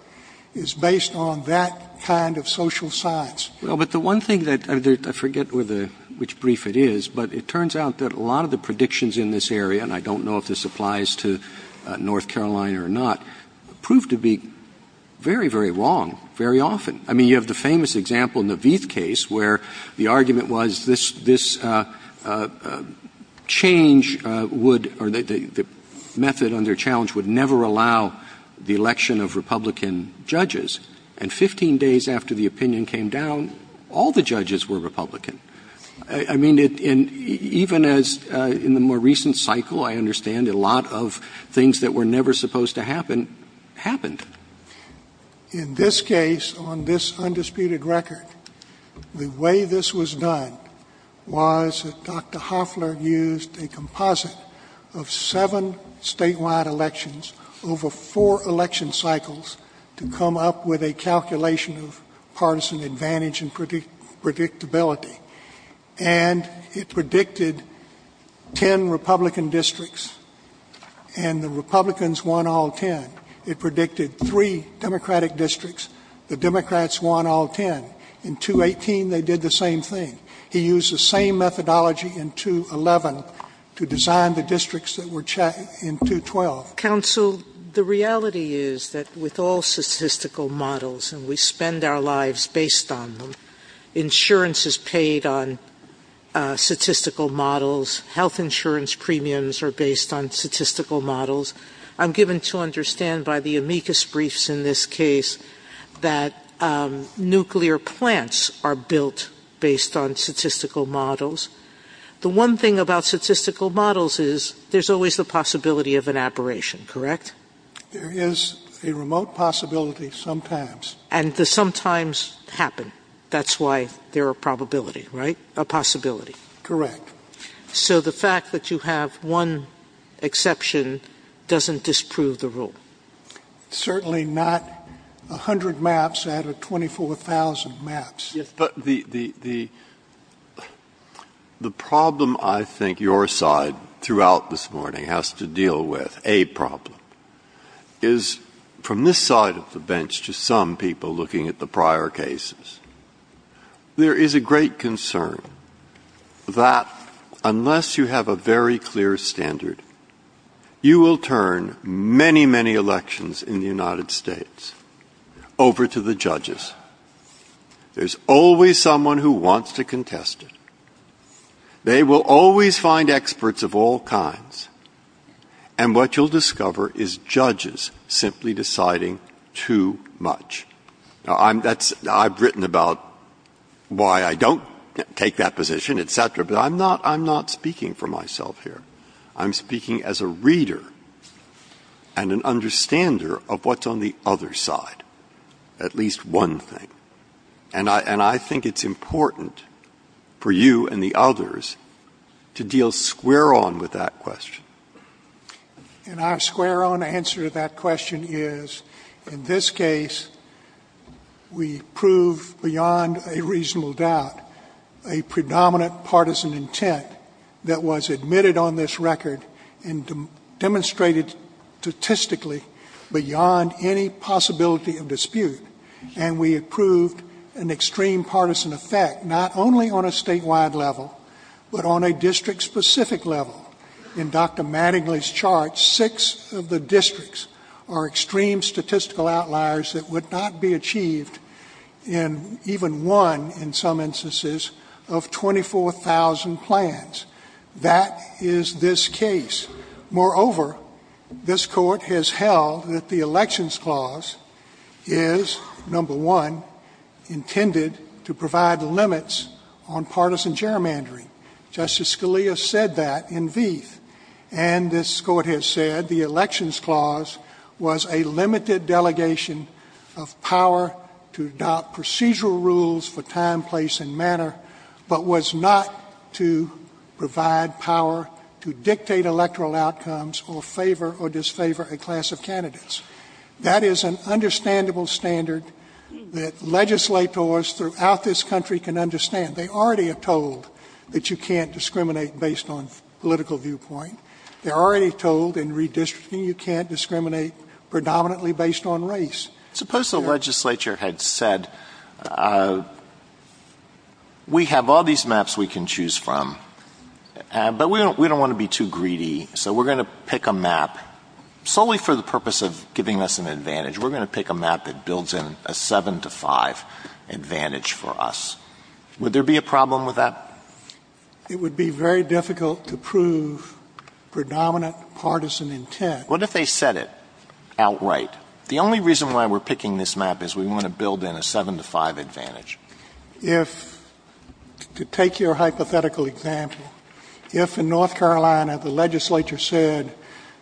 is based on that kind of social science. Well, but the one thing that I forget which brief it is, but it turns out that a lot of the predictions in this area, and I don't know if this applies to North Carolina or not, proved to be very, very long, very often. I mean, you have the famous example in the Vieth case where the argument was this method under challenge would never allow the election of Republican judges. And 15 days after the opinion came down, all the judges were Republican. I mean, even in the more recent cycle, I understand a lot of things that were never supposed to happen, happened. In this case, on this undisputed record, the way this was done was that Dr. Hoffler used a composite of seven statewide elections over four election cycles to come up with a calculation of partisan advantage and predictability. And it predicted 10 Republican districts, and the Republicans won all 10. It predicted three Democratic districts. The Democrats won all 10. In 218, they did the same thing. He used the same methodology in 211 to design the districts that were checked in 212. So, counsel, the reality is that with all statistical models, and we spend our lives based on them, insurance is paid on statistical models. Health insurance premiums are based on statistical models. I'm given to understand by the amicus briefs in this case that nuclear plants are built based on statistical models. The one thing about statistical models is there's always the possibility of an aberration, correct? There is a remote possibility sometimes. And the sometimes happen. That's why they're a probability, right? A possibility. Correct. So, the fact that you have one exception doesn't disprove the rule. Certainly not 100 maps out of 24,000 maps. But the problem I think your side throughout this morning has to deal with, a problem, is from this side of the bench to some people looking at the prior cases, there is a great concern that unless you have a very clear standard, you will turn many, many elections in the United States over to the judges. There's always someone who wants to contest it. They will always find experts of all kinds. And what you'll discover is judges simply deciding too much. I've written about why I don't take that position, et cetera, but I'm not speaking for myself here. I'm speaking as a reader and an understander of what's on the other side. At least one thing. And I think it's important for you and the others to deal square on with that question. And our square on answer to that question is, in this case, we prove beyond a reasonable doubt a predominant partisan intent that was admitted on this record and demonstrated statistically beyond any possibility of dispute. And we have proved an extreme partisan effect, not only on a statewide level, but on a district-specific level. In Dr. Mattingly's chart, six of the districts are extreme statistical outliers that would not be achieved in even one, in some instances, of 24,000 plans. That is this case. Moreover, this Court has held that the Elections Clause is, number one, intended to provide the limits on partisan gerrymandering. Justice Scalia said that in V. And this Court has said the Elections Clause was a limited delegation of power to adopt procedural rules for time, place, and manner, but was not to provide power to dictate electoral outcomes or favor or disfavor a class of candidates. That is an understandable standard that legislators throughout this country can understand. They already have told that you can't discriminate based on political viewpoint. They already have told in redistricting you can't discriminate predominantly based on race. Suppose the legislature had said, we have all these maps we can choose from, but we don't want to be too greedy, so we're going to pick a map solely for the purpose of giving us an advantage. We're going to pick a map that builds in a 7 to 5 advantage for us. Would there be a problem with that? It would be very difficult to prove predominant partisan intent. What if they said it outright? The only reason why we're picking this map is we want to build in a 7 to 5 advantage. If, to take your hypothetical example, if in North Carolina the legislature said,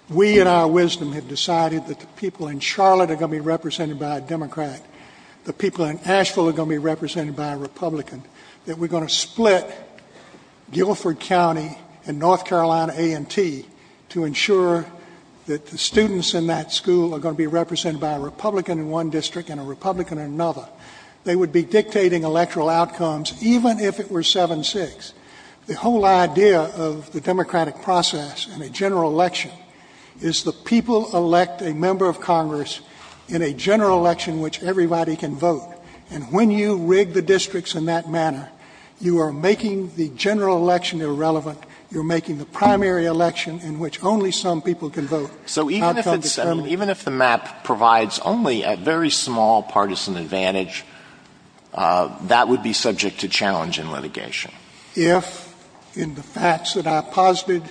we in our wisdom have decided that the people in Charlotte are going to be represented by a Democrat, the people in Asheville are going to be represented by a Republican, that we're going to split Guilford County and North Carolina A&T to ensure that the students in that school are going to be represented by a Republican in one district and a Republican in another. They would be dictating electoral outcomes even if it were 7 to 6. The whole idea of the democratic process in a general election is the people elect a member of Congress in a general election in which everybody can vote. And when you rig the districts in that manner, you are making the general election irrelevant. You're making the primary election in which only some people can vote. So even if the map provides only a very small partisan advantage, that would be subject to challenging litigation? If, in the facts that I've posited,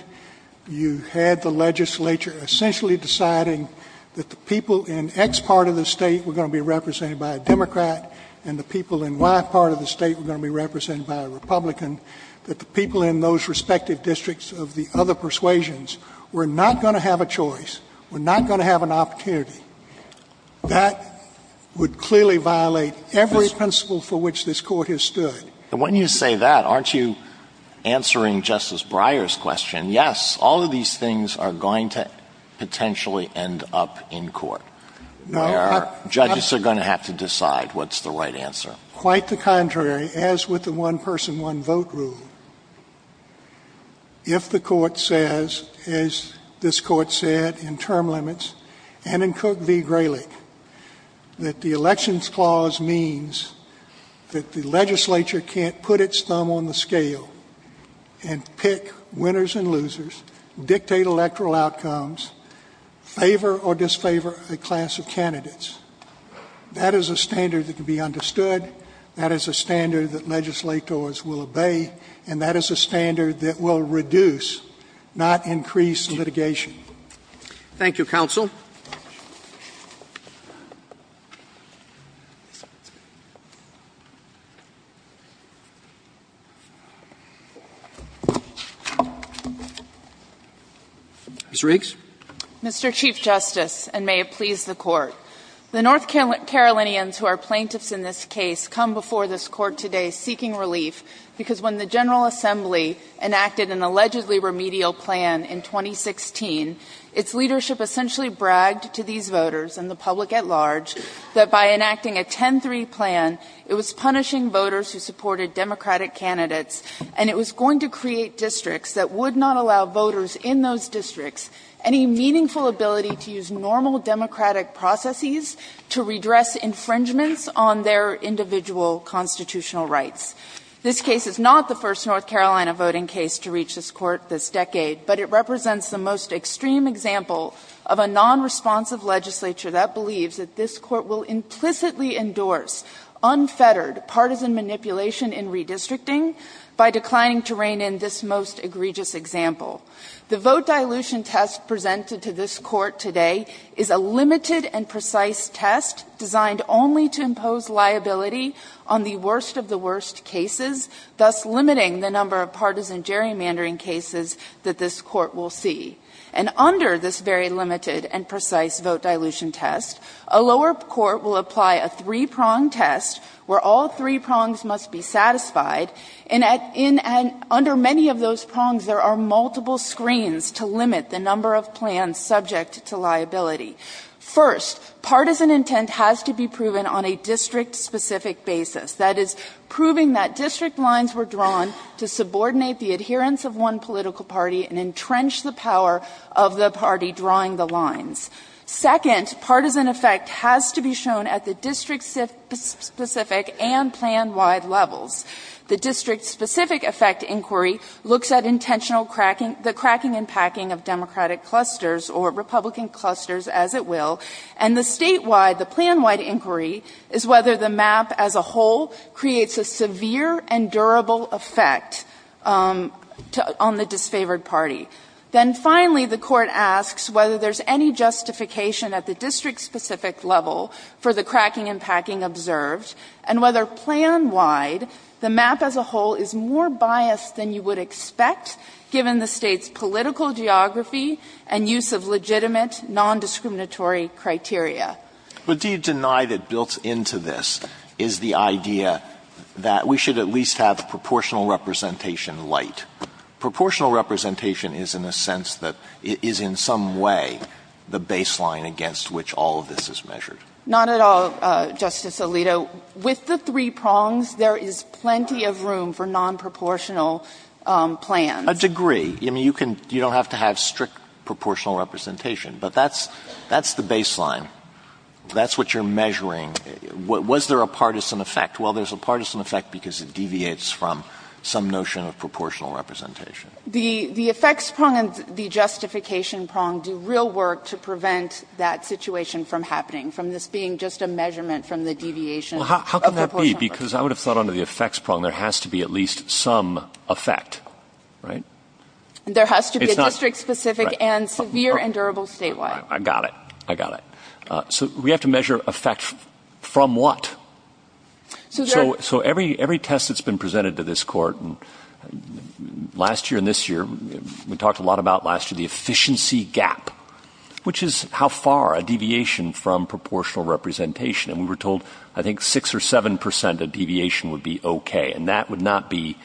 you had the legislature essentially deciding that the people in X part of the state were going to be represented by a Democrat and the people in Y part of the state were going to be represented by a Republican, that the people in those respective districts of the other persuasions were not going to have a choice, were not going to have an opportunity, that would clearly violate every principle for which this Court has stood. And when you say that, aren't you answering Justice Breyer's question? Yes, all of these things are going to potentially end up in court. Judges are going to have to decide what's the right answer. Quite the contrary, as with the one-person, one-vote rule. If the Court says, as this Court said in term limits and in Cook v. Grayleck, that the elections clause means that the legislature can't put its thumb on the scale and pick winners and losers, dictate electoral outcomes, favor or disfavor a class of candidates, that is a standard that can be understood, that is a standard that legislators will obey, and that is a standard that will reduce, not increase, litigation. Thank you, Counsel. Ms. Riggs? Mr. Chief Justice, and may it please the Court, the North Carolinians who are plaintiffs in this case come before this Court today seeking relief because when the General Assembly enacted an allegedly remedial plan in 2016, its leadership essentially bragged to these voters and the public at large that by enacting a 10-3 plan, it was punishing voters who supported Democratic candidates, and it was going to create districts that would not allow voters in those districts any meaningful ability to use normal Democratic processes to redress infringements on their individual constitutional rights. This case is not the first North Carolina voting case to reach this Court this decade, but it represents the most extreme example of a non-responsive legislature that believes that this Court will implicitly endorse unfettered partisan manipulation in redistricting by declining to rein in this most egregious example. The vote dilution test presented to this Court today is a limited and precise test designed only to impose liability on the worst of the worst cases, thus limiting the number of partisan gerrymandering cases that this Court will see. And under this very limited and precise vote dilution test, a lower Court will apply a three-prong test where all three prongs must be satisfied, and under many of those prongs there are multiple screens to limit the number of plans subject to liability. First, partisan intent has to be proven on a district-specific basis, that is, proving that district lines were drawn to subordinate the adherence of one political party and entrench the power of the party drawing the lines. Second, partisan effect has to be shown at the district-specific and plan-wide levels. The district-specific effect inquiry looks at intentional cracking, the cracking and packing of Democratic clusters or Republican clusters, as it will, and the statewide, the plan-wide inquiry is whether the map as a whole creates a severe and durable effect on the disfavored party. Then finally, the Court asks whether there's any justification at the district-specific level for the cracking and packing observed, and whether plan-wide, the map as a whole is more biased than you would expect, given the state's political geography and use of legitimate, non-discriminatory criteria. What do you deny that builds into this is the idea that we should at least have proportional representation light? Proportional representation is, in a sense, that it is in some way the baseline against which all of this is measured. Not at all, Justice Alito. With the three prongs, there is plenty of room for non-proportional plans. A degree. You don't have to have strict proportional representation, but that's the baseline. That's what you're measuring. Was there a partisan effect? Well, there's a partisan effect because it deviates from some notion of proportional representation. The effects prong and the justification prong do real work to prevent that situation from happening, from this being just a measurement from the deviation. Well, how can that be? Because I would have thought under the effects prong there has to be at least some effect, right? There has to be a district-specific and severe and durable statewide. I got it. I got it. So we have to measure effect from what? So every test that's been presented to this court last year and this year, we talked a lot about last year, the efficiency gap, which is how far a deviation from proportional representation. And we were told I think 6% or 7% of deviation would be okay, and that would not be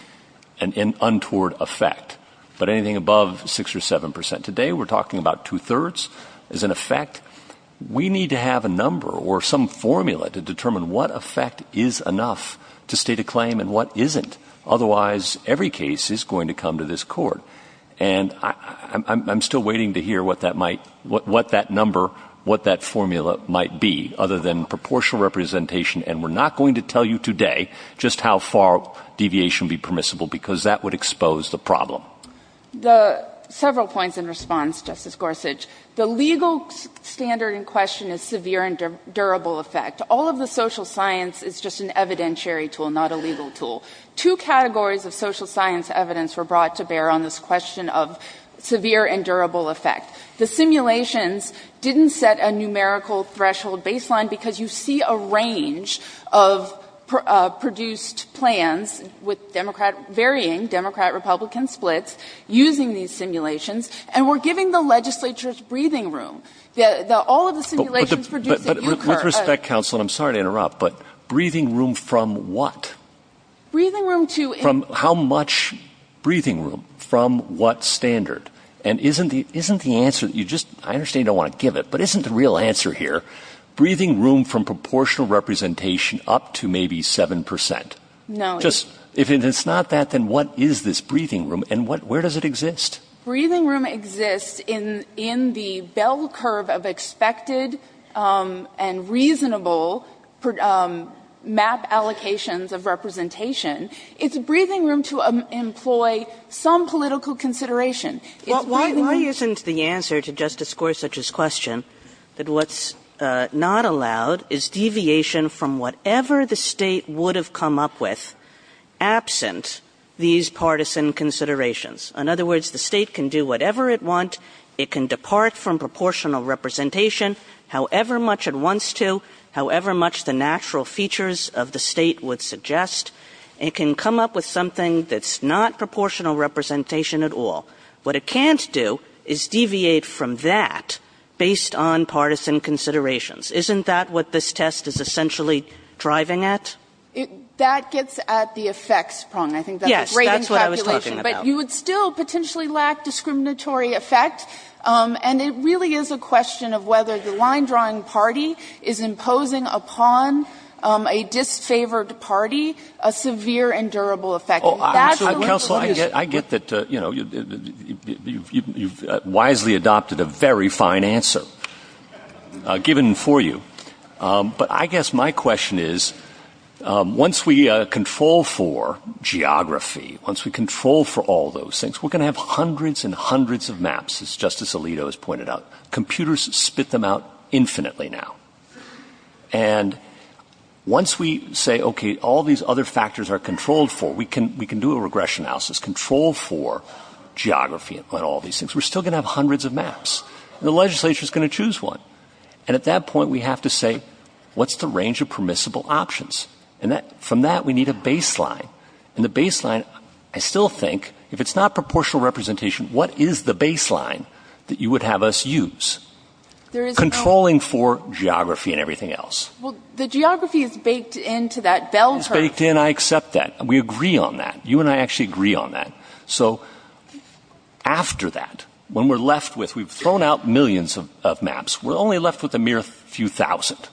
an untoward effect, but anything above 6% or 7%. Today we're talking about two-thirds as an effect. We need to have a number or some formula to determine what effect is enough to state a claim and what isn't. Otherwise, every case is going to come to this court. And I'm still waiting to hear what that number, what that formula might be other than proportional representation, and we're not going to tell you today just how far deviation would be permissible because that would expose the problem. Several points in response, Justice Gorsuch. The legal standard in question is severe and durable effect. All of the social science is just an evidentiary tool, not a legal tool. Two categories of social science evidence were brought to bear on this question of severe and durable effect. The simulations didn't set a numerical threshold baseline because you see a range of produced plans with varying Democrat-Republican splits using these simulations, and we're giving the legislatures breathing room. But with respect, counsel, and I'm sorry to interrupt, but breathing room from what? Breathing room to... How much breathing room from what standard? And isn't the answer that you just... I understand you don't want to give it, but isn't the real answer here breathing room from proportional representation up to maybe 7%? No. If it's not that, then what is this breathing room, and where does it exist? Breathing room exists in the bell curve of expected and reasonable map allocations of representation. It's breathing room to employ some political consideration. It's breathing room... Well, mine isn't the answer to Justice Gorsuch's question, that what's not allowed is deviation from whatever the state would have come up with absent these partisan considerations. In other words, the state can do whatever it wants. It can depart from proportional representation however much it wants to, however much the natural features of the state would suggest. It can come up with something that's not proportional representation at all. What it can't do is deviate from that based on partisan considerations. Isn't that what this test is essentially driving at? That gets at the effects problem. I think that's a great encapsulation. But you would still potentially lack discriminatory effects, and it really is a question of whether the line-drawing party is imposing upon a disfavored party a severe and durable effect. Counsel, I get that you've wisely adopted a very fine answer given for you. But I guess my question is, once we control for geography, once we control for all those things, we're going to have hundreds and hundreds of maps, as Justice Alito has pointed out. Computers spit them out infinitely now. And once we say, okay, all these other factors are controlled for, we can do a regression analysis, control for geography and all these things. We're still going to have hundreds of maps. The legislature is going to choose one. And at that point, we have to say, what's the range of permissible options? And from that, we need a baseline. And the baseline, I still think, if it's not proportional representation, what is the baseline that you would have us use? Controlling for geography and everything else. Well, the geography is baked into that bell curve. It's baked in. I accept that. We agree on that. You and I actually agree on that. So after that, when we're left with, we've thrown out millions of maps, we're only left with a mere few thousand.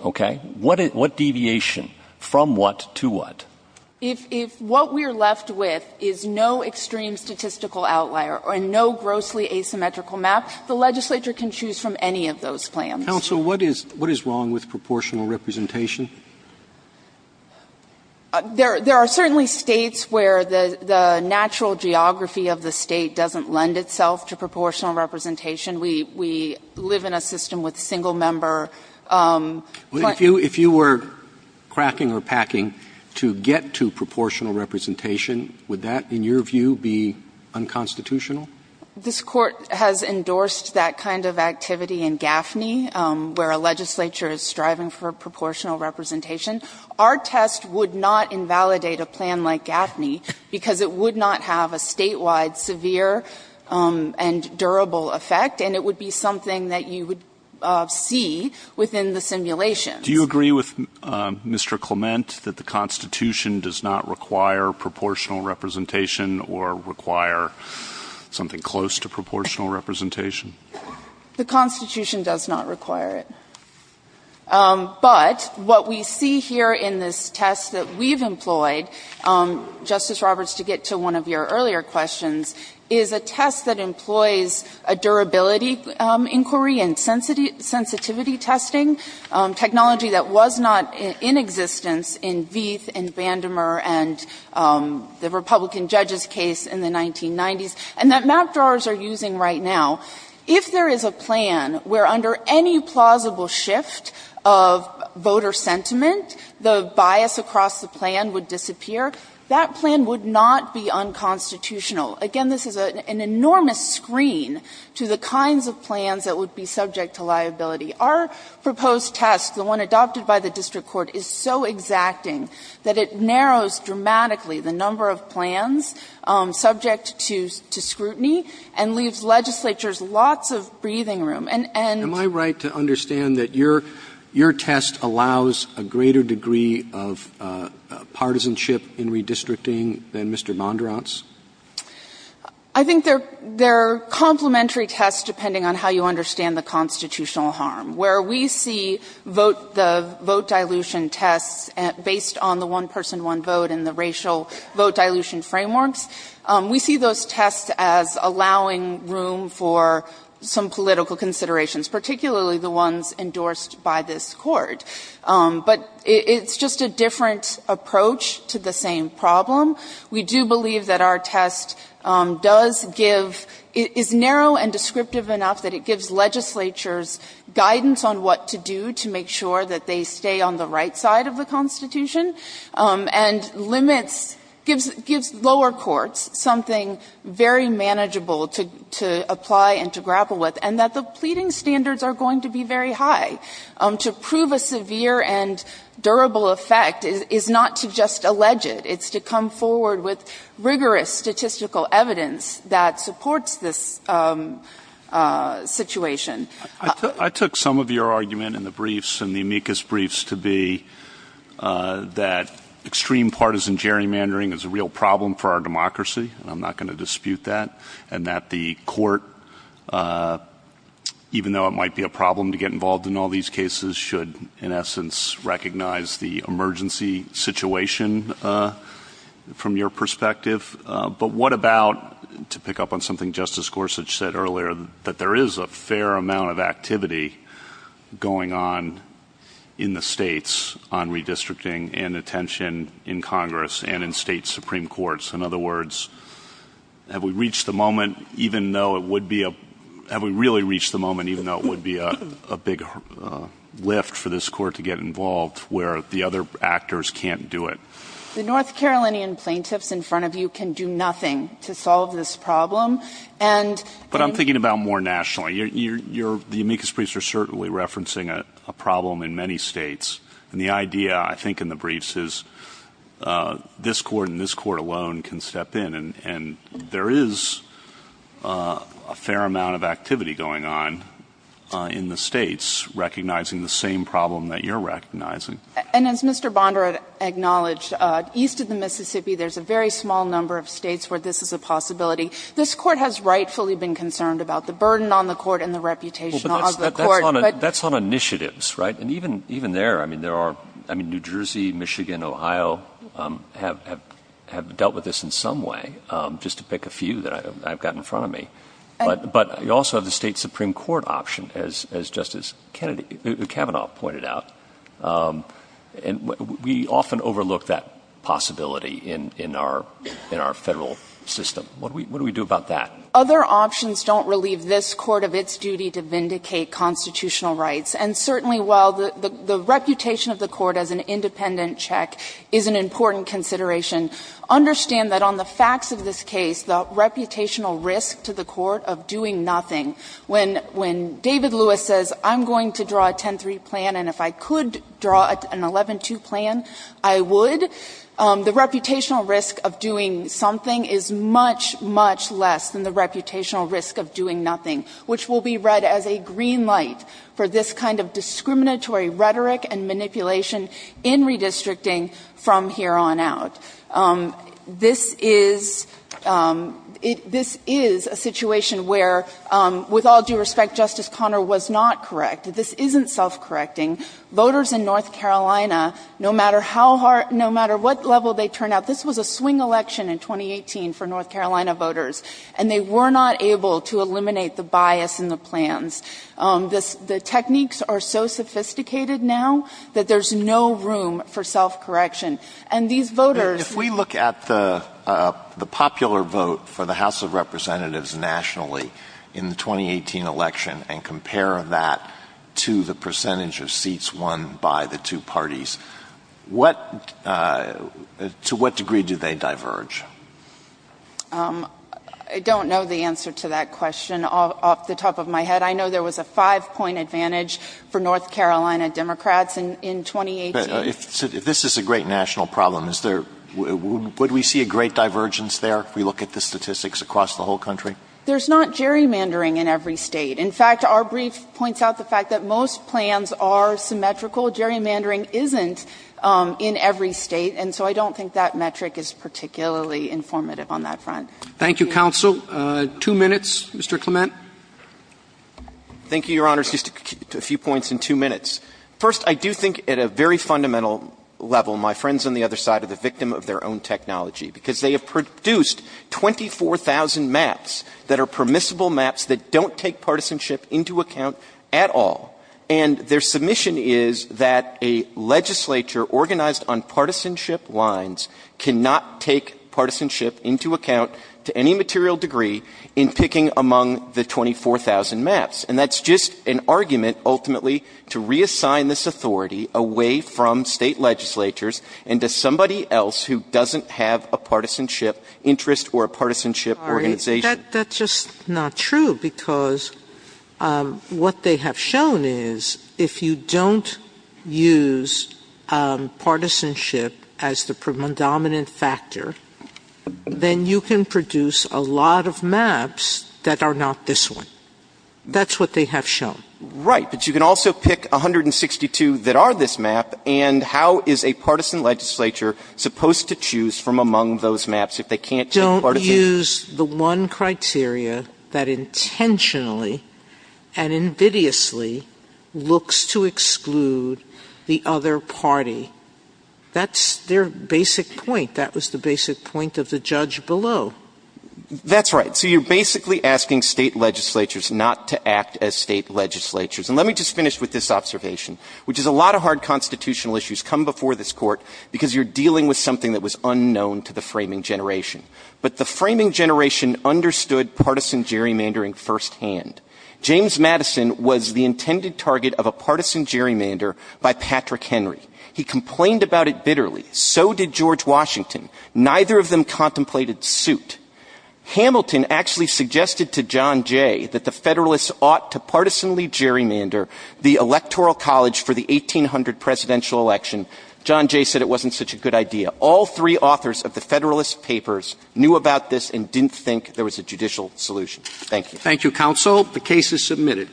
Okay? What deviation? From what to what? If what we're left with is no extreme statistical outlier or no grossly asymmetrical map, the legislature can choose from any of those plans. Counsel, what is wrong with proportional representation? There are certainly states where the natural geography of the state doesn't lend itself to proportional representation. We live in a system with single member. If you were cracking or packing to get to proportional representation, would that, in your view, be unconstitutional? This court has endorsed that kind of activity in GAFNI, where a legislature is striving for proportional representation. Our test would not invalidate a plan like GAFNI because it would not have a statewide severe and durable effect, and it would be something that you would see within the simulation. Do you agree with Mr. Clement that the Constitution does not require proportional representation or require something close to proportional representation? The Constitution does not require it. But what we see here in this test that we've employed, Justice Roberts, to get to one of your earlier questions, is a test that employs a durability inquiry and sensitivity testing, technology that was not in existence in Vieth and Vandemer and the Republican judges' case in the 1990s, and that map drawers are using right now. If there is a plan where under any plausible shift of voter sentiment, the bias across the plan would disappear, that plan would not be unconstitutional. Again, this is an enormous screen to the kinds of plans that would be subject to liability. Our proposed test, the one adopted by the district court, is so exacting that it narrows dramatically the number of plans subject to scrutiny and leaves legislatures lots of breathing room. Am I right to understand that your test allows a greater degree of partisanship in redistricting than Mr. Mondrant's? I think they're complementary tests depending on how you understand the constitutional harm. Where we see the vote dilution test based on the one-person, one-vote and the racial vote dilution framework, we see those tests as allowing room for some political considerations, particularly the ones endorsed by this court. But it's just a different approach to the same problem. We do believe that our test is narrow and descriptive enough that it gives legislatures guidance on what to do to make sure that they stay on the right side of the Constitution and gives lower courts something very manageable to apply and to grapple with, and that the pleading standards are going to be very high. To prove a severe and durable effect is not to just allege it. It's to come forward with rigorous statistical evidence that supports this situation. I took some of your argument in the briefs, in the amicus briefs, to be that extreme partisan gerrymandering is a real problem for our democracy. I'm not going to dispute that. And that the court, even though it might be a problem to get involved in all these cases, should, in essence, recognize the emergency situation from your perspective. But what about, to pick up on something Justice Gorsuch said earlier, that there is a fair amount of activity going on in the states on redistricting and attention in Congress and in state supreme courts. In other words, have we really reached the moment, even though it would be a big lift for this court to get involved, where the other actors can't do it? The North Carolinian plaintiffs in front of you can do nothing to solve this problem. But I'm thinking about more nationally. The amicus briefs are certainly referencing a problem in many states. And the idea, I think, in the briefs is this court and this court alone can step in. And there is a fair amount of activity going on in the states, recognizing the same problem that you're recognizing. And as Mr. Bondra acknowledged, east of the Mississippi there's a very small number of states where this is a possibility. This court has rightfully been concerned about the burden on the court and the reputation of the court. That's on initiatives, right? And even there, I mean, New Jersey, Michigan, Ohio have dealt with this in some way, just to pick a few that I've got in front of me. But you also have the state supreme court option, as Justice Kavanaugh pointed out. And we often overlook that possibility in our federal system. What do we do about that? Other options don't relieve this court of its duty to vindicate constitutional rights. And certainly while the reputation of the court as an independent check is an important consideration, understand that on the facts of this case, the reputational risk to the court of doing nothing, when David Lewis says, I'm going to draw a 10-3 plan, and if I could draw an 11-2 plan, I would, the reputational risk of doing something is much, much less than the reputational risk of doing nothing, which will be read as a green light for this kind of discriminatory rhetoric and manipulation in redistricting from here on out. This is a situation where, with all due respect, Justice Conner was not correct. This isn't self-correcting. Voters in North Carolina, no matter what level they turn out, this was a swing election in 2018 for North Carolina voters, and they were not able to eliminate the bias in the plans. The techniques are so sophisticated now that there's no room for self-correction. If we look at the popular vote for the House of Representatives nationally in the 2018 election and compare that to the percentage of seats won by the two parties, to what degree do they diverge? I don't know the answer to that question off the top of my head. I know there was a five-point advantage for North Carolina Democrats in 2018. This is a great national problem. Would we see a great divergence there if we look at the statistics across the whole country? There's not gerrymandering in every state. In fact, our brief points out the fact that most plans are symmetrical. Gerrymandering isn't in every state, and so I don't think that metric is particularly informative on that front. Thank you, Counsel. Two minutes, Mr. Clement. Thank you, Your Honors. Just a few points in two minutes. First, I do think at a very fundamental level, my friends on the other side are the victim of their own technology because they have produced 24,000 maps that are permissible maps that don't take partisanship into account at all, and their submission is that a legislature organized on partisanship lines cannot take partisanship into account to any material degree in picking among the 24,000 maps, and that's just an argument ultimately to reassign this authority away from state legislatures and to somebody else who doesn't have a partisanship interest or a partisanship organization. That's just not true because what they have shown is if you don't use partisanship as the predominant factor, then you can produce a lot of maps that are not this one. That's what they have shown. Right, but you can also pick 162 that are this map, and how is a partisan legislature supposed to choose from among those maps if they can't take partisanship? They can choose the one criteria that intentionally and invidiously looks to exclude the other party. That's their basic point. That was the basic point of the judge below. That's right. So you're basically asking state legislatures not to act as state legislatures, and let me just finish with this observation, which is a lot of hard constitutional issues come before this court because you're dealing with something that was unknown to the framing generation, but the framing generation understood partisan gerrymandering firsthand. James Madison was the intended target of a partisan gerrymander by Patrick Henry. He complained about it bitterly. So did George Washington. Neither of them contemplated suit. Hamilton actually suggested to John Jay that the Federalists ought to partisanly gerrymander the Electoral College for the 1800 presidential election. John Jay said it wasn't such a good idea. All three authors of the Federalist papers knew about this and didn't think there was a judicial solution. Thank you. Thank you, counsel. The case is submitted.